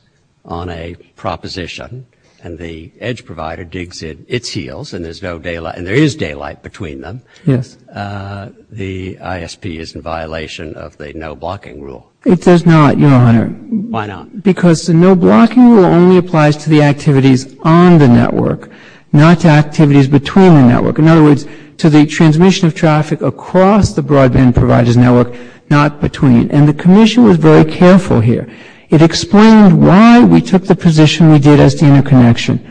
on a proposition, and the edge provider digs in its heels, and there is daylight between them, the ISP is in violation of the no-blocking rule. It does not, Your Honor. Why not? Because the no-blocking rule only applies to the activities on the network, not to activities between the network. In other words, to the transmission of traffic across the broadband provider's network, not between. And the Commission was very careful here. It explained why we took the position we did as the interconnection.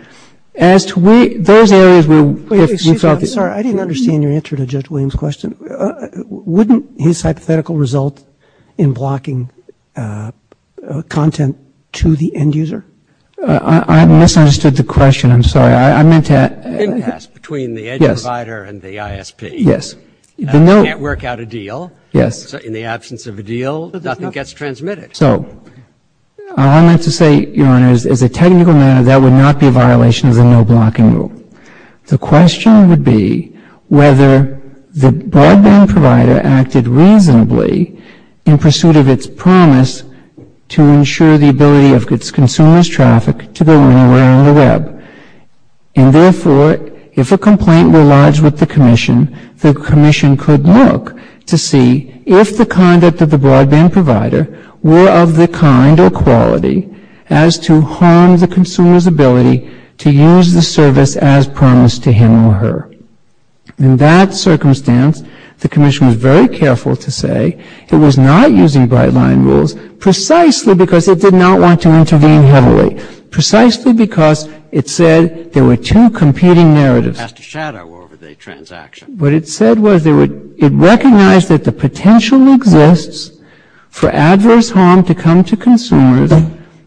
As to those areas, we felt... I'm sorry. I didn't understand your answer to Judge Williams' question. Wouldn't his hypothetical result in blocking content to the end user? I misunderstood the question. I'm sorry. I meant to ask... Between the edge provider and the ISP. Yes. The network had a deal. Yes. In the absence of a deal, nothing gets transmitted. So, I meant to say, Your Honor, as a technical matter, that would not be a violation of the no-blocking rule. The question would be whether the broadband provider acted reasonably in pursuit of its promise to ensure the ability of its consumers' traffic to go anywhere on the web. And therefore, if a complaint were lodged with the Commission, the Commission could look to see if the conduct of the broadband provider were of the kind or quality as to harm the consumer's ability to use the service as promised to him or her. In that circumstance, the Commission was very careful to say it was not using bright-line rules precisely because it did not want to intervene heavily. Precisely because it said there were two competing narratives. It has to shadow over the transaction. What it said was it recognized that the potential exists for adverse harm to come to consumers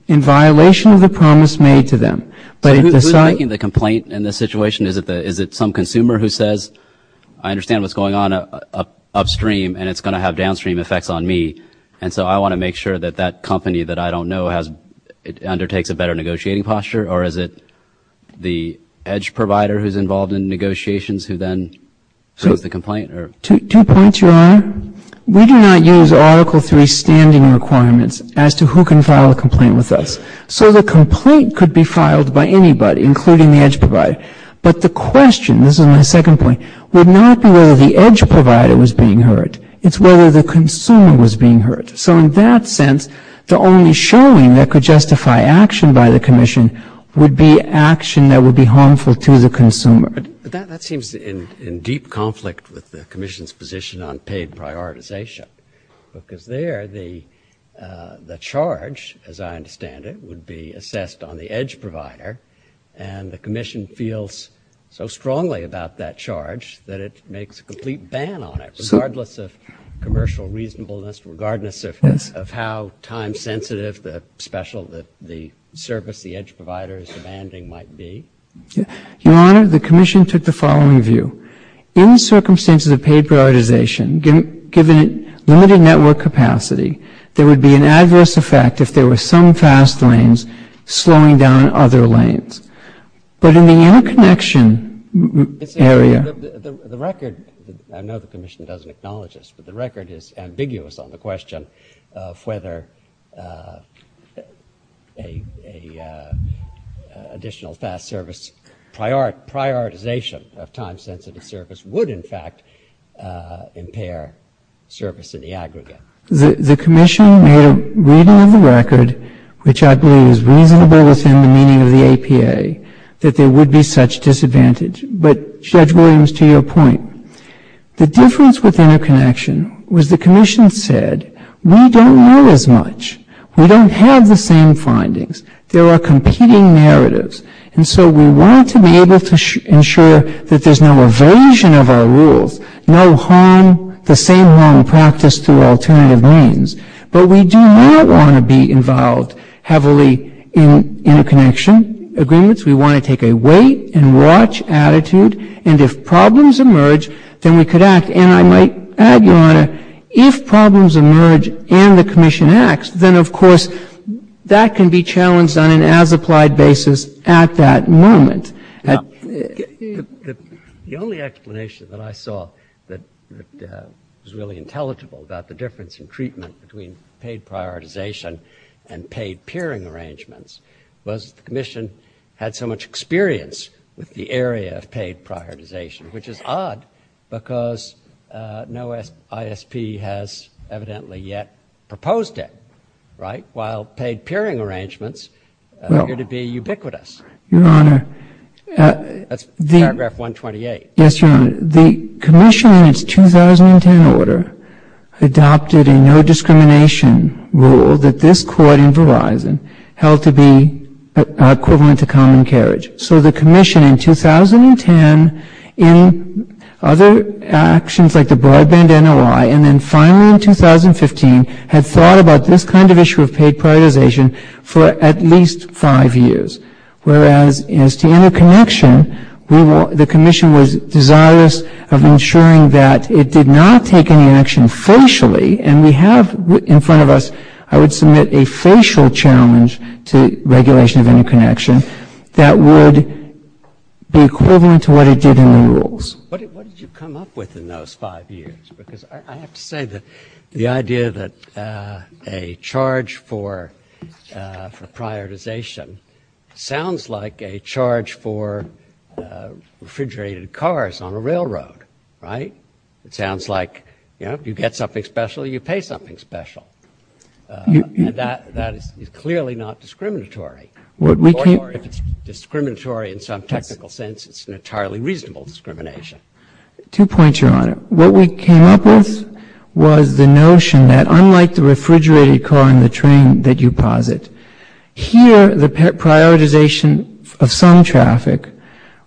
in violation of the promise made to them. Who's making the complaint in this situation? Is it some consumer who says, I understand what's going on upstream, and it's going to have downstream effects on me, and so I want to make sure that that company that I don't know undertakes a better negotiating posture? Or is it the EDGE provider who's involved in negotiations who then suits the complaint? Two points, Your Honor. We do not use Article III standing requirements as to who can file a complaint with us. So the complaint could be filed by anybody, including the EDGE provider. But the question, this is my second point, would not be whether the EDGE provider was being hurt. It's whether the consumer was being hurt. So in that sense, the only showing that could justify action by the Commission would be action that would be harmful to the consumer. That seems in deep conflict with the Commission's position on paid prioritization. Because there, the charge, as I understand it, would be assessed on the EDGE provider, and the Commission feels so strongly about that charge that it makes a complete ban on it, regardless of commercial reasonableness, regardless of how time-sensitive the service the EDGE provider is demanding might be. Your Honor, the Commission took the following view. In circumstances of paid prioritization, given limited network capacity, there would be an adverse effect if there were some fast lanes slowing down other lanes. But in the interconnection area... The record, I know the Commission doesn't acknowledge this, but the record is ambiguous on the question of whether an additional fast service prioritization of time-sensitive service would, in fact, impair service in the aggregate. The Commission made a reading of the record, which I believe is reasonable within the meaning of the APA, that there would be such disadvantage. But, Judge Williams, to your point, the difference within the connection was the Commission said, we don't know as much. We don't have the same findings. There are competing narratives. And so we want to be able to ensure that there's no evasion of our rules, no harm, the same harm practiced through alternative means. But we do not want to be involved heavily in interconnection agreements. We want to take a wait-and-watch attitude. And if problems emerge, then we could act. And I might add, Your Honor, if problems emerge and the Commission acts, then, of course, that can be challenged on an as-applied basis at that moment. The only explanation that I saw that was really intelligible about the difference in treatment between paid prioritization and paid peering arrangements was the Commission had so much experience with the area of paid prioritization, which is odd, because no ISP has evidently yet proposed it, right? While paid peering arrangements appear to be ubiquitous. Your Honor, the Commission in its 2010 order adopted a no-discrimination rule that this court in Verizon held to be equivalent to common carriage. So the Commission in 2010, in other actions like the broadband NOI, and then finally in 2015, had thought about this kind of issue of paid prioritization for at least five years. Whereas, as to interconnection, the Commission was desirous of ensuring that it did not take any action facially, and we have in front of us, I would submit, a facial challenge to regulation of interconnection that would be equivalent to what it did in the rules. What did you come up with in those five years? Because I have to say that the idea that a charge for prioritization sounds like a charge for refrigerated cars on a railroad, right? It sounds like, you know, you get something special, you pay something special. That is clearly not discriminatory. Or if it's discriminatory in some technical sense, it's an entirely reasonable discrimination. Two points, Your Honor. What we came up with was the notion that, unlike the refrigerated car and the train that you posit, here the prioritization of some traffic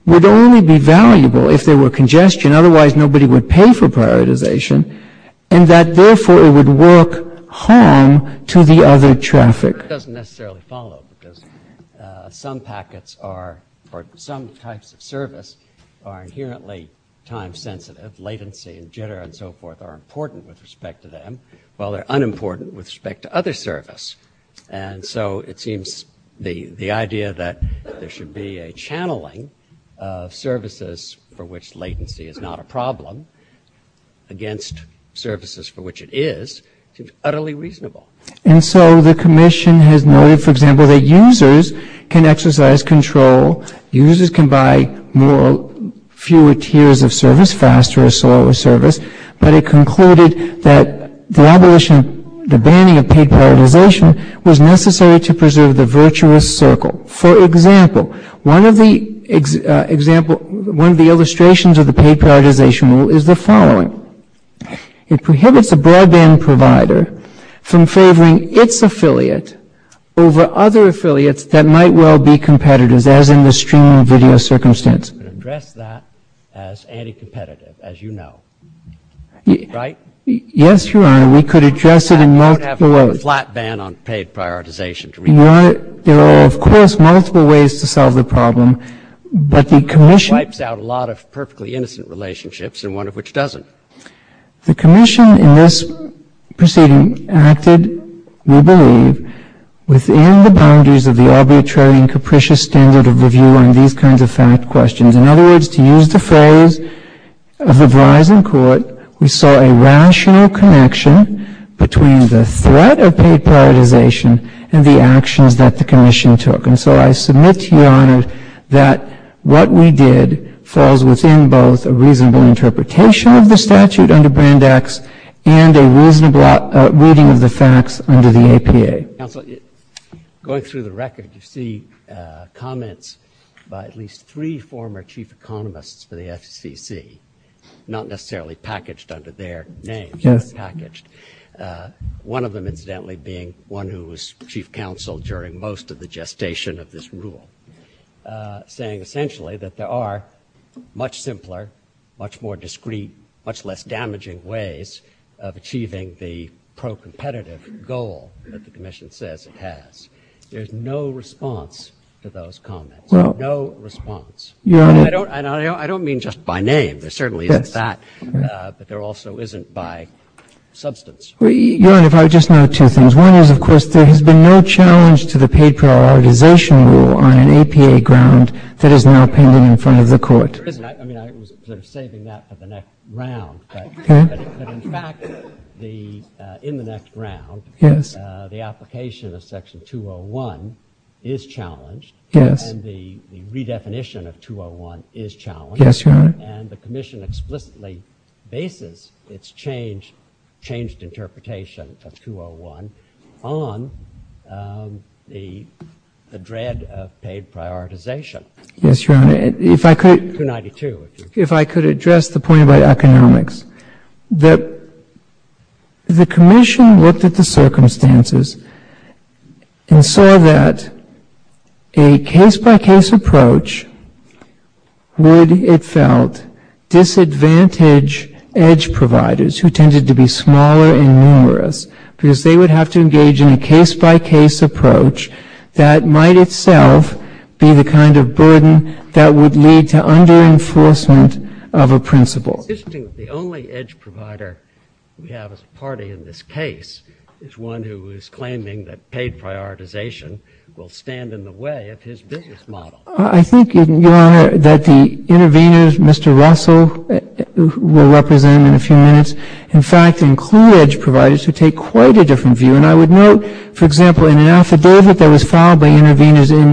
would only be valuable if there were congestion, otherwise nobody would pay for prioritization, and that therefore it would work harm to the other traffic. It doesn't necessarily follow because some packets or some types of service are inherently time-sensitive, latency and jitter and so forth are important with respect to them, while they're unimportant with respect to other service. And so it seems the idea that there should be a channeling of services for which latency is not a problem against services for which it is, seems utterly reasonable. And so the commission has noted, for example, that users can exercise control, users can buy fewer tiers of service, faster or slower service, but it concluded that the abolition, the banning of paid prioritization was necessary to preserve the virtuous circle. For example, one of the illustrations of the paid prioritization rule is the following. It prohibits a broadband provider from favoring its affiliate over other affiliates that might well be competitors, as in the streaming video circumstance. We could address that as anti-competitive, as you know, right? Yes, Your Honor, we could address it in multiple ways. We don't have a flat ban on paid prioritization. Your Honor, there are, of course, multiple ways to solve the problem, but the commission... The commission in this proceeding acted, we believe, within the boundaries of the arbitrary and capricious standard of review on these kinds of fact questions. In other words, to use the phrase of the rising court, we saw a rational connection between the threat of paid prioritization and the actions that the commission took. And so I submit to you, Your Honor, that what we did falls within both a reasonable interpretation of the statute under Brand X and a reasonable reading of the facts under the APA. Counsel, going through the record, you see comments by at least three former chief economists for the SEC, not necessarily packaged under their names, but packaged. One of them, incidentally, being one who was chief counsel during most of the gestation of this rule, saying essentially that there are much simpler, much more discrete, much less damaging ways of achieving the pro-competitive goal that the commission says it has. There's no response to those comments. No response. And I don't mean just by name. There certainly is that, but there also isn't by substance. Your Honor, if I could just add two things. One is, of course, there has been no challenge to the paid prioritization rule on an APA ground that is now pending in front of the court. I was saving that for the next round. But in fact, in the next round, the application of Section 201 is challenged. And the redefinition of 201 is challenged. And the commission explicitly bases its changed interpretation of 201 on the dread of paid prioritization. Yes, Your Honor. 292. If I could address the point about economics. The commission looked at the circumstances and saw that a case-by-case approach would, it felt, disadvantage edge providers who tended to be smaller and numerous because they would have to engage in a case-by-case approach that might itself be the kind of burden that would lead to under-enforcement of a principle. The only edge provider we have as a party in this case is one who is claiming that paid prioritization will stand in the way of his business model. I think, Your Honor, that the interveners, Mr. Russell will represent in a few minutes, in fact, include edge providers who take quite a different view. And I would note, for example, in an affidavit that was filed by interveners in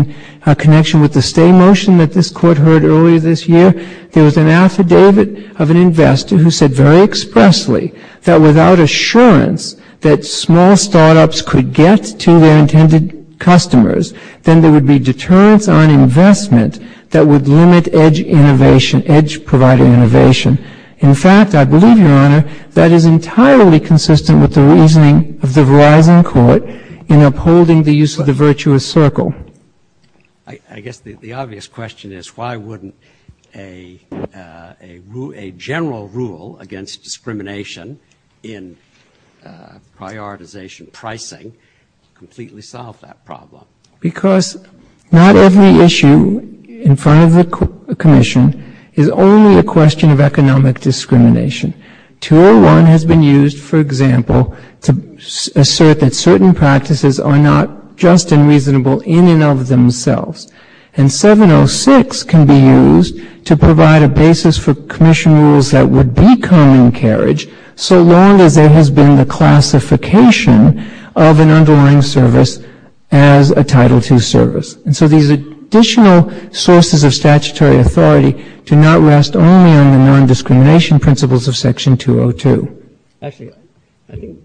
connection with the stay motion that this Court heard earlier this year, there was an affidavit of an investor who said very expressly that without assurance that small startups could get to their intended customers, then there would be deterrence on investment that would limit edge innovation, edge provider innovation. In fact, I believe, Your Honor, that is entirely consistent with the reasoning of the Verizon Court in upholding the use of the virtuous circle. I guess the obvious question is why wouldn't a general rule against discrimination in prioritization pricing completely solve that problem? Because not every issue in front of the Commission is only a question of economic discrimination. 201 has been used, for example, to assert that certain practices are not just and reasonable in and of themselves. And 706 can be used to provide a basis for Commission rules that would be common carriage so long as there has been the classification of an underlying service as a Title II service. And so these additional sources of statutory authority do not rest only on the non-discrimination principles of Section 202. Actually, I don't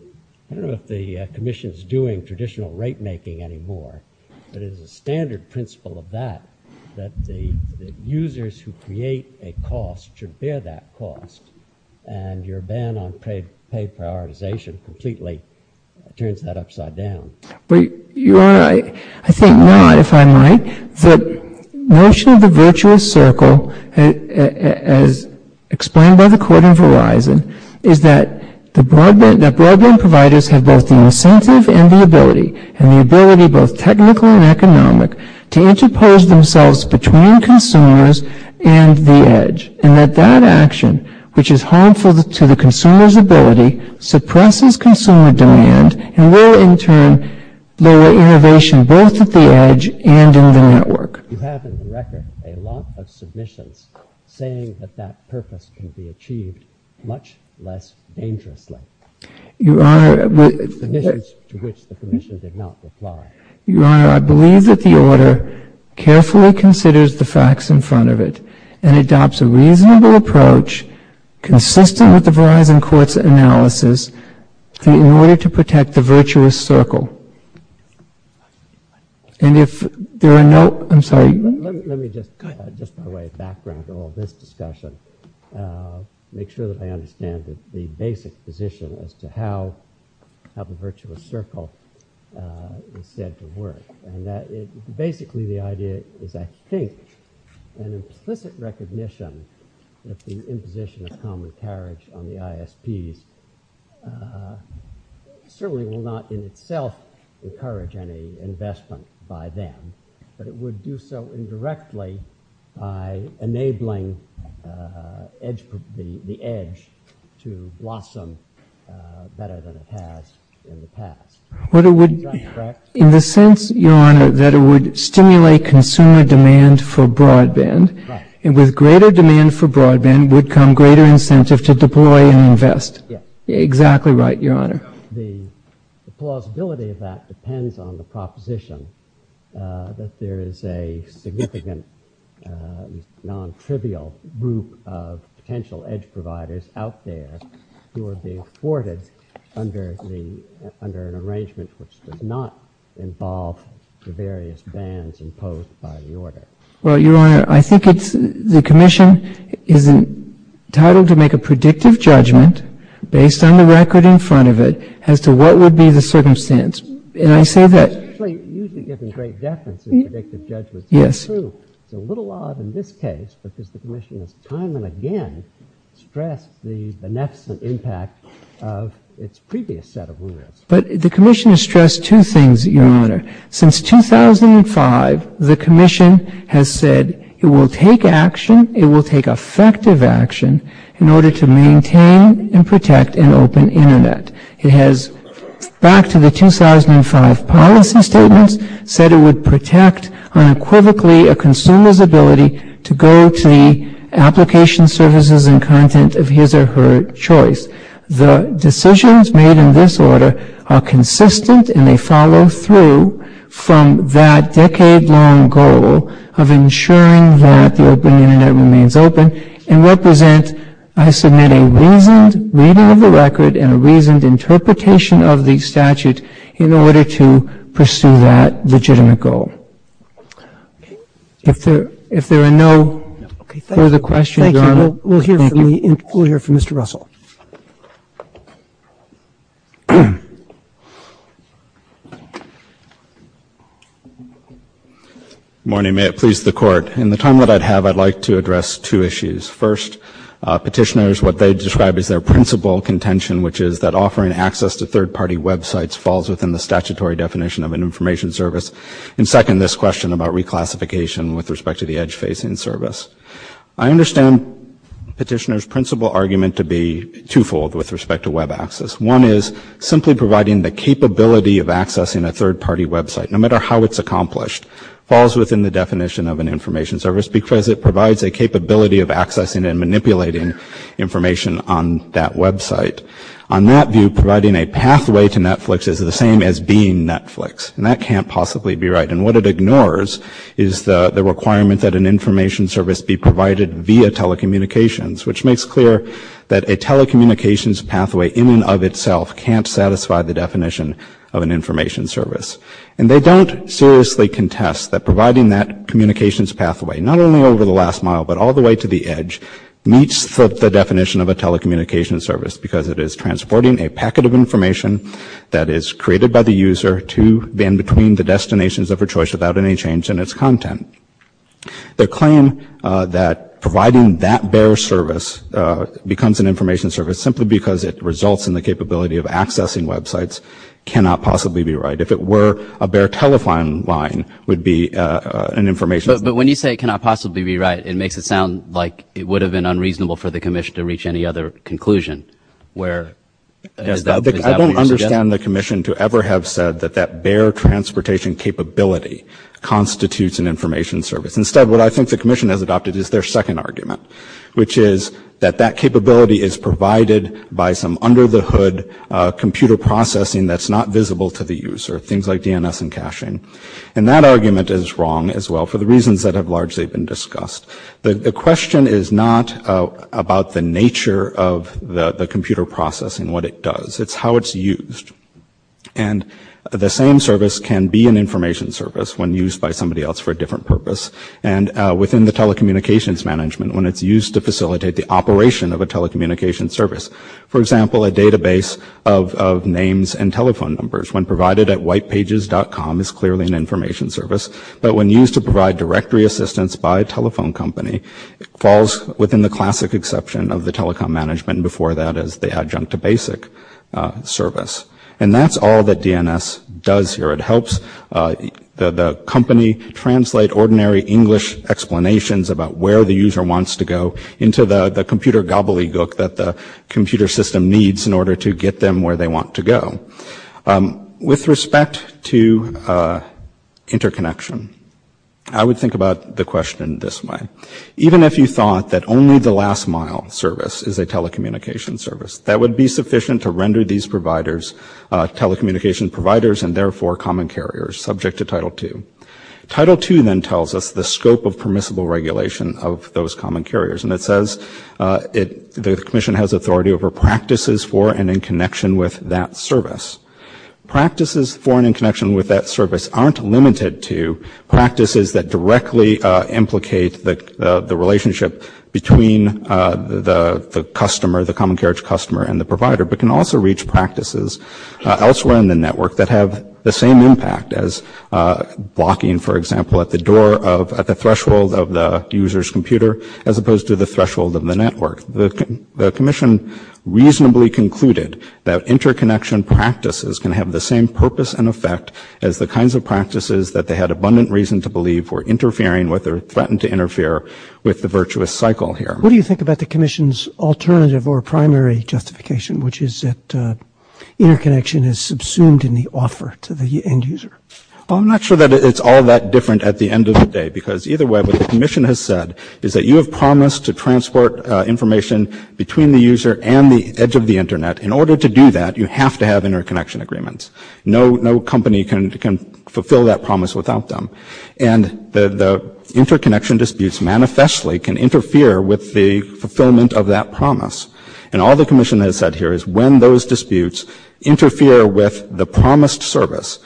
know if the Commission is doing traditional rate-making anymore, but it is a standard principle of that that the users who create a cost should bear that cost, and your ban on pay prioritization completely turns that upside down. I think not, if I might. The notion of the virtuous circle, as explained by the Court in Verizon, is that broadband providers have both the incentive and the ability, and the ability both technical and economic, to interpose themselves between consumers and the edge, and that that action, which is harmful to the consumer's ability, suppresses consumer demand and will, in turn, lower innovation both at the edge and in the network. You have in the record a lot of submissions saying that that purpose can be achieved much less dangerously. Your Honor, I believe that the Order carefully considers the facts in front of it and adopts a reasonable approach consistent with the Verizon Court's analysis in order to protect the virtuous circle. And if there are no... I'm sorry. Let me just by way of background to all this discussion make sure that I understand the basic position as to how the virtuous circle is said to work. Basically, the idea is I think an implicit recognition of the imposition of common carriage on the ISPs certainly will not in itself encourage any investment by them, but it would do so indirectly by enabling the edge to blossom better than it has in the past. In the sense, Your Honor, that it would stimulate consumer demand for broadband, and with greater demand for broadband would come greater incentive to deploy and invest. Exactly right, Your Honor. The plausibility of that depends on the proposition that there is a significant non-trivial group of potential edge providers out there who are being thwarted under an arrangement which does not involve the various bans imposed by the Order. Well, Your Honor, I think the Commission is entitled to make a predictive judgment based on the record in front of it as to what would be the circumstance. And I say that... It usually gives a great definition of predictive judgment. Yes. It's true. It's a little odd in this case, but the Commission has time and again stressed the nexus and impact of its previous set of rules. But the Commission has stressed two things, Your Honor. Since 2005, the Commission has said it will take action, it will take effective action in order to maintain and protect an open Internet. It has, back to the 2005 policy statement, said it would protect unequivocally a consumer's ability to go to the application services and content of his or her choice. The decisions made in this Order are consistent and they follow through from that decade-long goal of ensuring that the open Internet remains open and represent, I submit, a reasoned reading of the record and a reasoned interpretation of the statute in order to pursue that legitimate goal. If there are no further questions, Your Honor, thank you. And we will hear from Mr. Russell. Good morning. May it please the Court. In the time that I have, I'd like to address two issues. First, petitioners, what they describe as their principal contention, which is that offering access to third-party websites falls within the statutory definition of an information service. And second, this question about reclassification with respect to the edge-facing service. I understand petitioners' principal argument to be twofold with respect to web access. One is simply providing the capability of accessing a third-party website, no matter how it's accomplished, falls within the definition of an information service because it provides a capability of accessing and manipulating information on that website. On that view, providing a pathway to Netflix is the same as being Netflix, and that can't possibly be right. And what it ignores is the requirement that an information service be provided via telecommunications, which makes clear that a telecommunications pathway in and of itself can't satisfy the definition of an information service. And they don't seriously contest that providing that communications pathway, not only over the last mile, but all the way to the edge, meets the definition of a telecommunications service because it is transporting a packet of information that is created by the user to and between the destinations of her choice without any change in its content. Their claim that providing that bare service becomes an information service simply because it results in the capability of accessing websites cannot possibly be right. If it were a bare telephone line, it would be an information service. But when you say it cannot possibly be right, it makes it sound like it would have been unreasonable for the commission to reach any other conclusion. I don't understand the commission to ever have said that that bare transportation capability constitutes an information service. Instead, what I think the commission has adopted is their second argument, which is that that capability is provided by some under-the-hood computer processing that's not visible to the user, things like DNS and caching. And that argument is wrong as well for the reasons that have largely been discussed. The question is not about the nature of the computer processing, what it does, it's how it's used. And the same service can be an information service when used by somebody else for a different purpose. And within the telecommunications management, when it's used to facilitate the operation of a telecommunications service, for example, a database of names and telephone numbers, when provided at whitepages.com, it's clearly an information service. But when used to provide directory assistance by a telephone company, it falls within the classic exception of the telecom management before that as they adjunct to basic service. And that's all that DNS does here. It helps the company translate ordinary English explanations about where the user wants to go into the computer gobbledygook that the computer system needs in order to get them where they want to go. With respect to interconnection, I would think about the question this way. Even if you thought that only the last mile service is a telecommunications service, that would be sufficient to render these telecommunications providers and therefore common carriers subject to Title II. Title II then tells us the scope of permissible regulation of those common carriers. And it says the Commission has authority over practices for and in connection with that service. Practices for and in connection with that service aren't limited to practices that directly implicate the relationship between the customer, the common carriage customer and the provider, but can also reach practices elsewhere in the network that have the same impact as blocking, for example, at the threshold of the user's computer as opposed to the threshold of the network. The Commission reasonably concluded that interconnection practices can have the same purpose and effect as the kinds of practices that they had abundant reason to believe were interfering with or threatened to interfere with the virtuous cycle here. What do you think about the Commission's alternative or primary justification, which is that interconnection is subsumed in the offer to the end user? I'm not sure that it's all that different at the end of the day because either way what the Commission has said is that you have promised to transport information between the user and the edge of the Internet. In order to do that, you have to have interconnection agreements. No company can fulfill that promise without them. And the interconnection disputes manifestly can interfere with the fulfillment of that promise. And all the Commission has said here is when those disputes interfere with the promised service,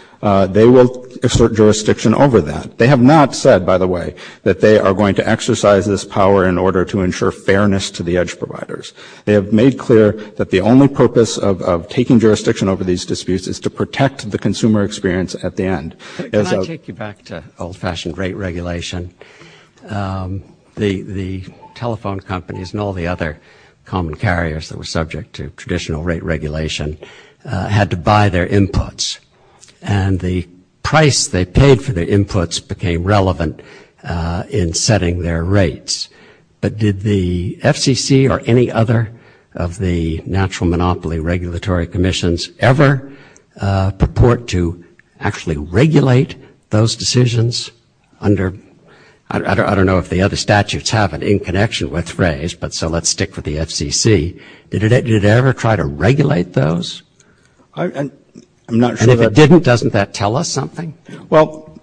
they will assert jurisdiction over that. They have not said, by the way, that they are going to exercise this power in order to ensure fairness to the edge providers. They have made clear that the only purpose of taking jurisdiction over these disputes is to protect the consumer experience at the end. Can I take you back to old-fashioned rate regulation? The telephone companies and all the other common carriers that were subject to traditional rate regulation had to buy their inputs. And the price they paid for their inputs became relevant in setting their rates. But did the FCC or any other of the natural monopoly regulatory commissions ever purport to actually regulate those decisions under... I don't know if the other statutes have an in-connection, let's raise, but so let's stick with the FCC. Did it ever try to regulate those? And if it didn't, doesn't that tell us something? Well,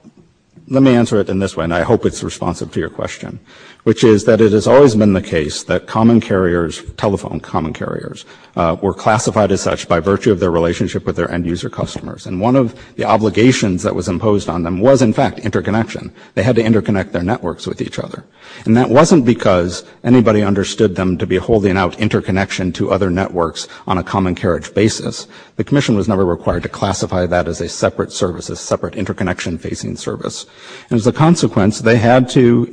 let me answer it in this way, and I hope it's responsive to your question, which is that it has always been the case that common carriers, telephone common carriers, were classified as such by virtue of their relationship with their end-user customers. And one of the obligations that was imposed on them was, in fact, interconnection. They had to interconnect their networks with each other. And that wasn't because anybody understood them to be holding out interconnection to other networks on a common carriage basis. The commission was never required to classify that as a separate service, a separate interconnection-facing service. As a consequence, they had to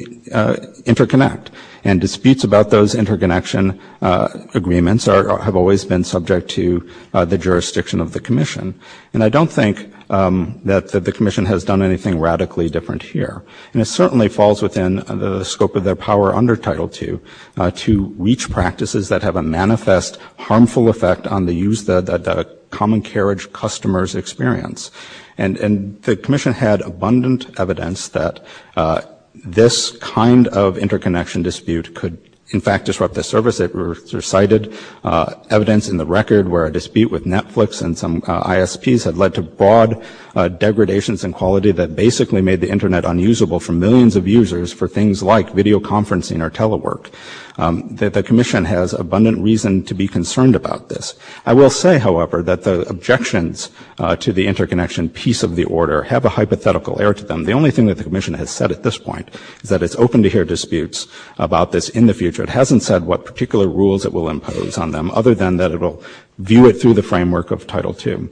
interconnect, and disputes about those interconnection agreements have always been subject to the jurisdiction of the commission. And I don't think that the commission has done anything radically different here. And it certainly falls within the scope of their power under Title II to reach practices that have a manifest harmful effect on the use that a common carriage customers experience. And the commission had abundant evidence that this kind of interconnection dispute could, in fact, disrupt the service. It cited evidence in the record where a dispute with Netflix and some ISPs had led to broad degradations in quality that basically made the Internet unusable for millions of users for things like videoconferencing or telework. The commission has abundant reason to be concerned about this. I will say, however, that the objections to the interconnection piece of the order have a hypothetical air to them. The only thing that the commission has said at this point is that it's open to hear disputes about this in the future. It hasn't said what particular rules it will impose on them, other than that it will view it through the framework of Title II.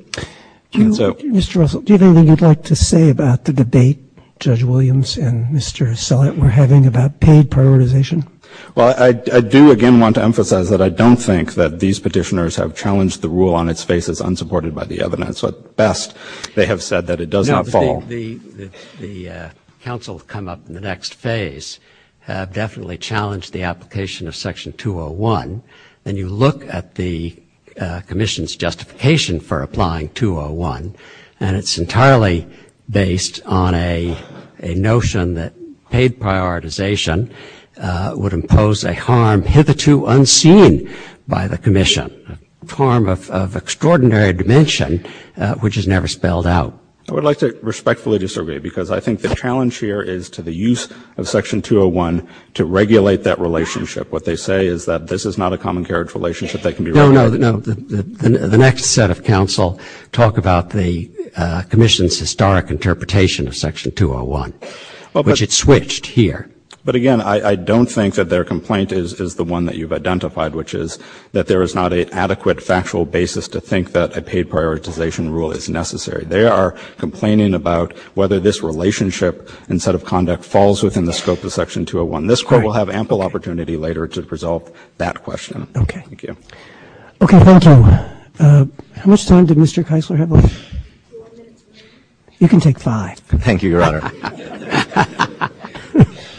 Mr. Russell, do you have anything you'd like to say about the debate Judge Williams and Mr. Sellett were having about paid prioritization? Well, I do again want to emphasize that I don't think that these petitioners have challenged the rule on its face as unsupported by the evidence. At best, they have said that it does not fall. The counsel to come up in the next phase have definitely challenged the application of Section 201. And you look at the commission's justification for applying 201, and it's entirely based on a notion that paid prioritization would impose a harm hitherto unseen by the commission, a harm of extraordinary dimension which is never spelled out. I would like to respectfully disagree because I think the challenge here is to the use of Section 201 to regulate that relationship. What they say is that this is not a common carriage relationship that can be regulated. The next set of counsel talk about the commission's historic interpretation of Section 201, which it switched here. But again, I don't think that their complaint is the one that you've identified, which is that there is not an adequate factual basis to think that a paid prioritization rule is necessary. They are complaining about whether this relationship and set of conduct falls within the scope of Section 201. This Court will have ample opportunity later to resolve that question. Okay, thank you. How much time did Mr. Keisler have left? You can take five. Thank you, Your Honor.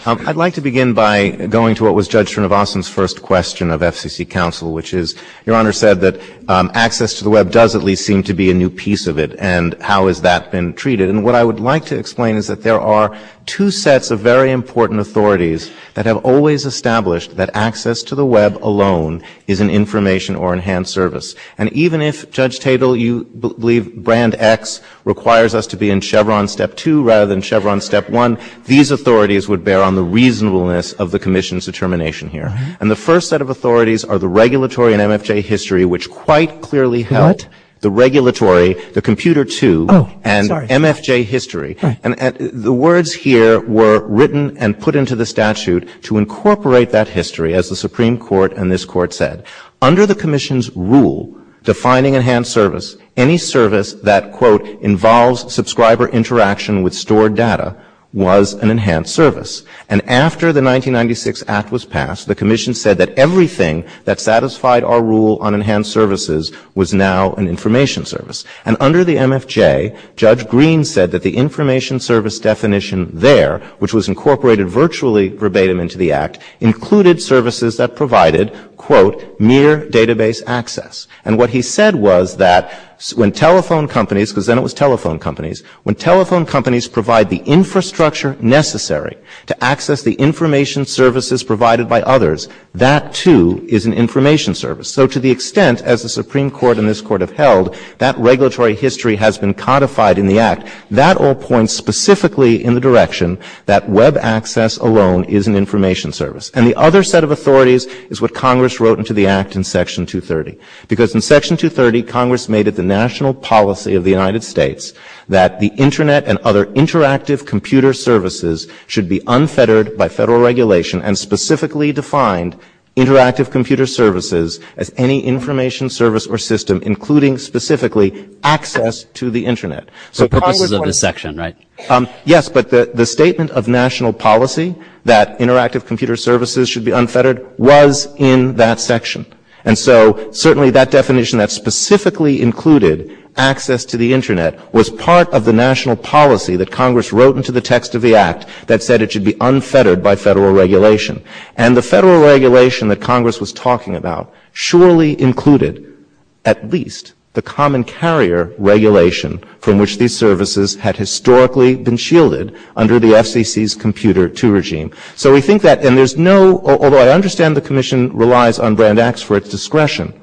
I'd like to begin by going to what was Judge Srinivasan's first question of FCC counsel, which is Your Honor said that access to the Web does at least seem to be a new piece of it, and how has that been treated? And what I would like to explain is that there are two sets of very important authorities that have always established that access to the Web alone is an information or enhanced service. And even if, Judge Tatel, you believe Brand X requires us to be in Chevron Step 2 rather than Chevron Step 1, these authorities would bear on the reasonableness of the commission's determination here. And the first set of authorities are the regulatory and MFJ history, which quite clearly help the regulatory, the computer too, and MFJ history. And the words here were written and put into the statute to incorporate that history, as the Supreme Court and this Court said. Under the commission's rule defining enhanced service, any service that, quote, involves subscriber interaction with stored data was an enhanced service. And after the 1996 Act was passed, the commission said that everything that satisfied our rule on enhanced services was now an information service. And under the MFJ, Judge Green said that the information service definition there, which was incorporated virtually verbatim into the Act, included services that provided, quote, mere database access. And what he said was that when telephone companies, because then it was telephone companies, when telephone companies provide the infrastructure necessary to access the information services provided by others, that too is an information service. So to the extent, as the Supreme Court and this Court have held, that regulatory history has been codified in the Act, that all points specifically in the direction that Web access alone is an information service. And the other set of authorities is what Congress wrote into the Act in Section 230. Because in Section 230, Congress made it the national policy of the United States that the Internet and other interactive computer services should be unfettered by federal regulation and specifically defined interactive computer services as any information service or system including specifically access to the Internet. So Congress was in this section, right? Yes, but the statement of national policy that interactive computer services should be unfettered was in that section. And so certainly that definition that specifically included access to the Internet was part of the national policy that Congress wrote into the text of the Act that said it should be unfettered by federal regulation. And the federal regulation that Congress was talking about surely included at least the common carrier regulation from which these services had historically been shielded under the FCC's Computer II regime. So we think that there's no, although I understand the Commission relies on Brand X for its discretion,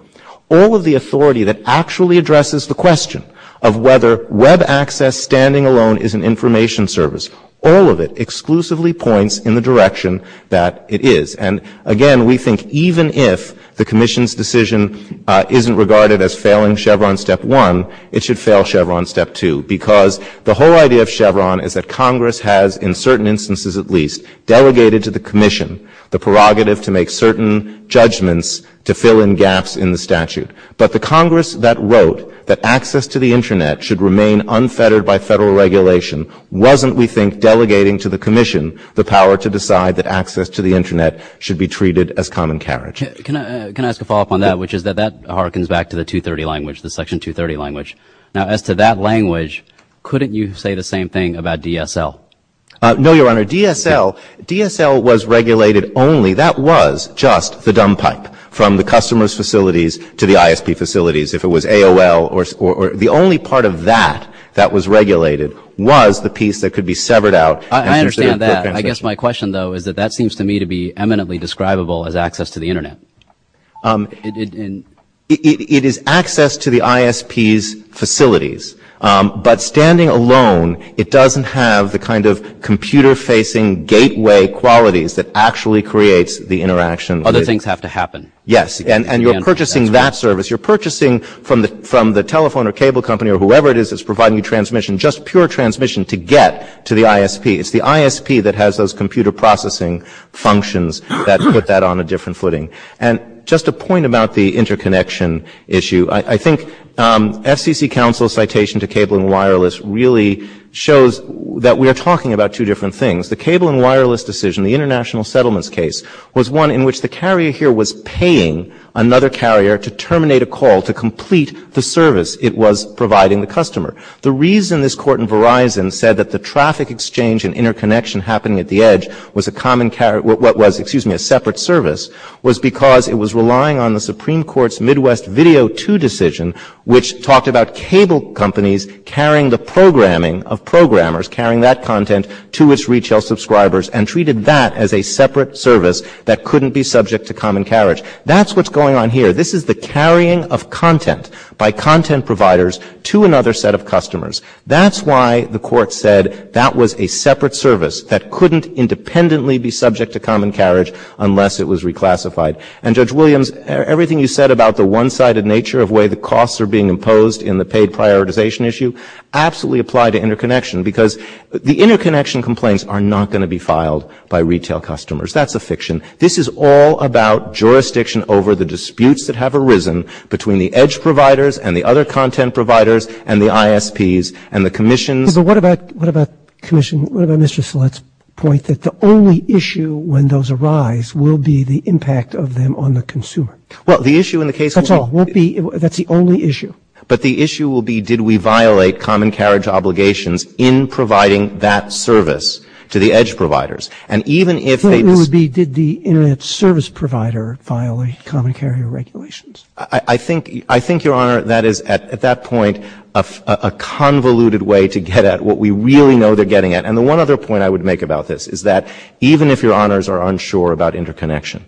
all of the authority that actually addresses the question of whether Web access standing alone is an information service, all of it exclusively points in the direction that it is. And again, we think even if the Commission's decision isn't regarded as failing Chevron Step 1, it should fail Chevron Step 2 because the whole idea of Chevron is that Congress has in certain instances at least delegated to the Commission the prerogative to make certain judgments to fill in gaps in the statute. But the Congress that wrote that access to the Internet should remain unfettered by federal regulation wasn't, we think, delegating to the Commission the power to decide that access to the Internet should be treated as common carriage. Can I ask a follow-up on that, which is that that harkens back to the 230 language, the Section 230 language. Now as to that language, couldn't you say the same thing about DSL? No, Your Honor. DSL was regulated only, that was just the dump pipe from the customer's facilities to the ISP facilities. The only part of that that was regulated was the piece that could be severed out. I understand that. I guess my question though is that that seems to me to be eminently describable as access to the Internet. It is access to the ISP's facilities. But standing alone, it doesn't have the kind of computer-facing gateway qualities that actually creates the interaction. Other things have to happen. Yes, and you're purchasing that service. You're purchasing from the telephone or cable company or whoever it is that's providing transmission, just pure transmission to get to the ISP. It's the ISP that has those computer processing functions that put that on a different footing. And just a point about the interconnection issue. I think FCC counsel's citation to cable and wireless really shows that we are talking about two different things. The cable and wireless decision, the international settlements case, was one in which the carrier here was paying another carrier to terminate a call to complete the service it was providing the customer. The reason this court in Verizon said that the traffic exchange and interconnection happening at the edge was a separate service was because it was relying on the Supreme Court's Midwest Video 2 decision, which talked about cable companies carrying the programming of programmers, carrying that content to its retail subscribers and treated that as a separate service that couldn't be subject to common carriage. That's what's going on here. This is the carrying of content by content providers to another set of customers. That's why the court said that was a separate service that couldn't independently be subject to common carriage unless it was reclassified. And, Judge Williams, everything you said about the one-sided nature of the way the costs are being imposed in the paid prioritization issue absolutely apply to interconnection because the interconnection complaints are not going to be filed by retail customers. That's a fiction. This is all about jurisdiction over the disputes that have arisen between the edge providers and the other content providers and the ISPs and the commissions. What about Mr. Select's point that the only issue when those arise will be the impact of them on the consumer? That's all. That's the only issue. But the issue will be did we violate common carriage obligations in providing that service to the edge providers? It would be did the internet service provider violate common carrier regulations? I think, Your Honor, that is at that point a convoluted way to get at what we really know they're getting at. And the one other point I would make about this is that even if Your Honors are unsure about interconnection,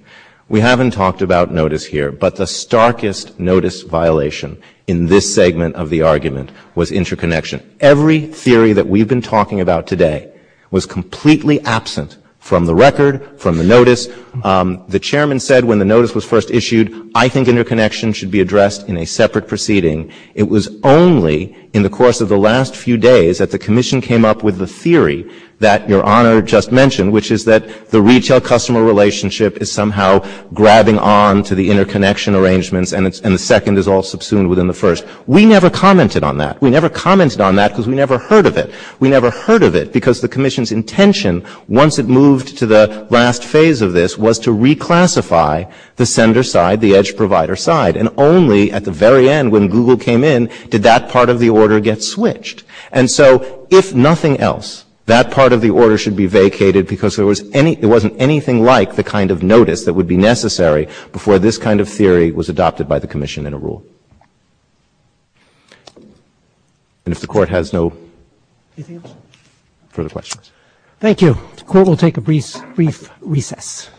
we haven't talked about notice here, but the starkest notice violation in this segment of the argument was interconnection. Every theory that we've been talking about today was completely absent from the record, from the notice. The chairman said when the notice was first issued, I think interconnection should be addressed in a separate proceeding. It was only in the course of the last few days that the commission came up with the theory that Your Honor just mentioned, which is that the retail customer relationship is somehow grabbing on to the interconnection arrangements and the second is all subsumed within the first. We never commented on that. We never commented on that because we never heard of it. We never heard of it because the commission's intention, once it moved to the last phase of this, was to reclassify the sender side, the edge provider side, and only at the very end when Google came in did that part of the order get switched. And so if nothing else, that part of the order should be vacated because there wasn't anything like the kind of notice that would be necessary before this kind of theory was adopted by the commission in a rule. And if the Court has no further questions. Thank you. The Court will take a brief recess.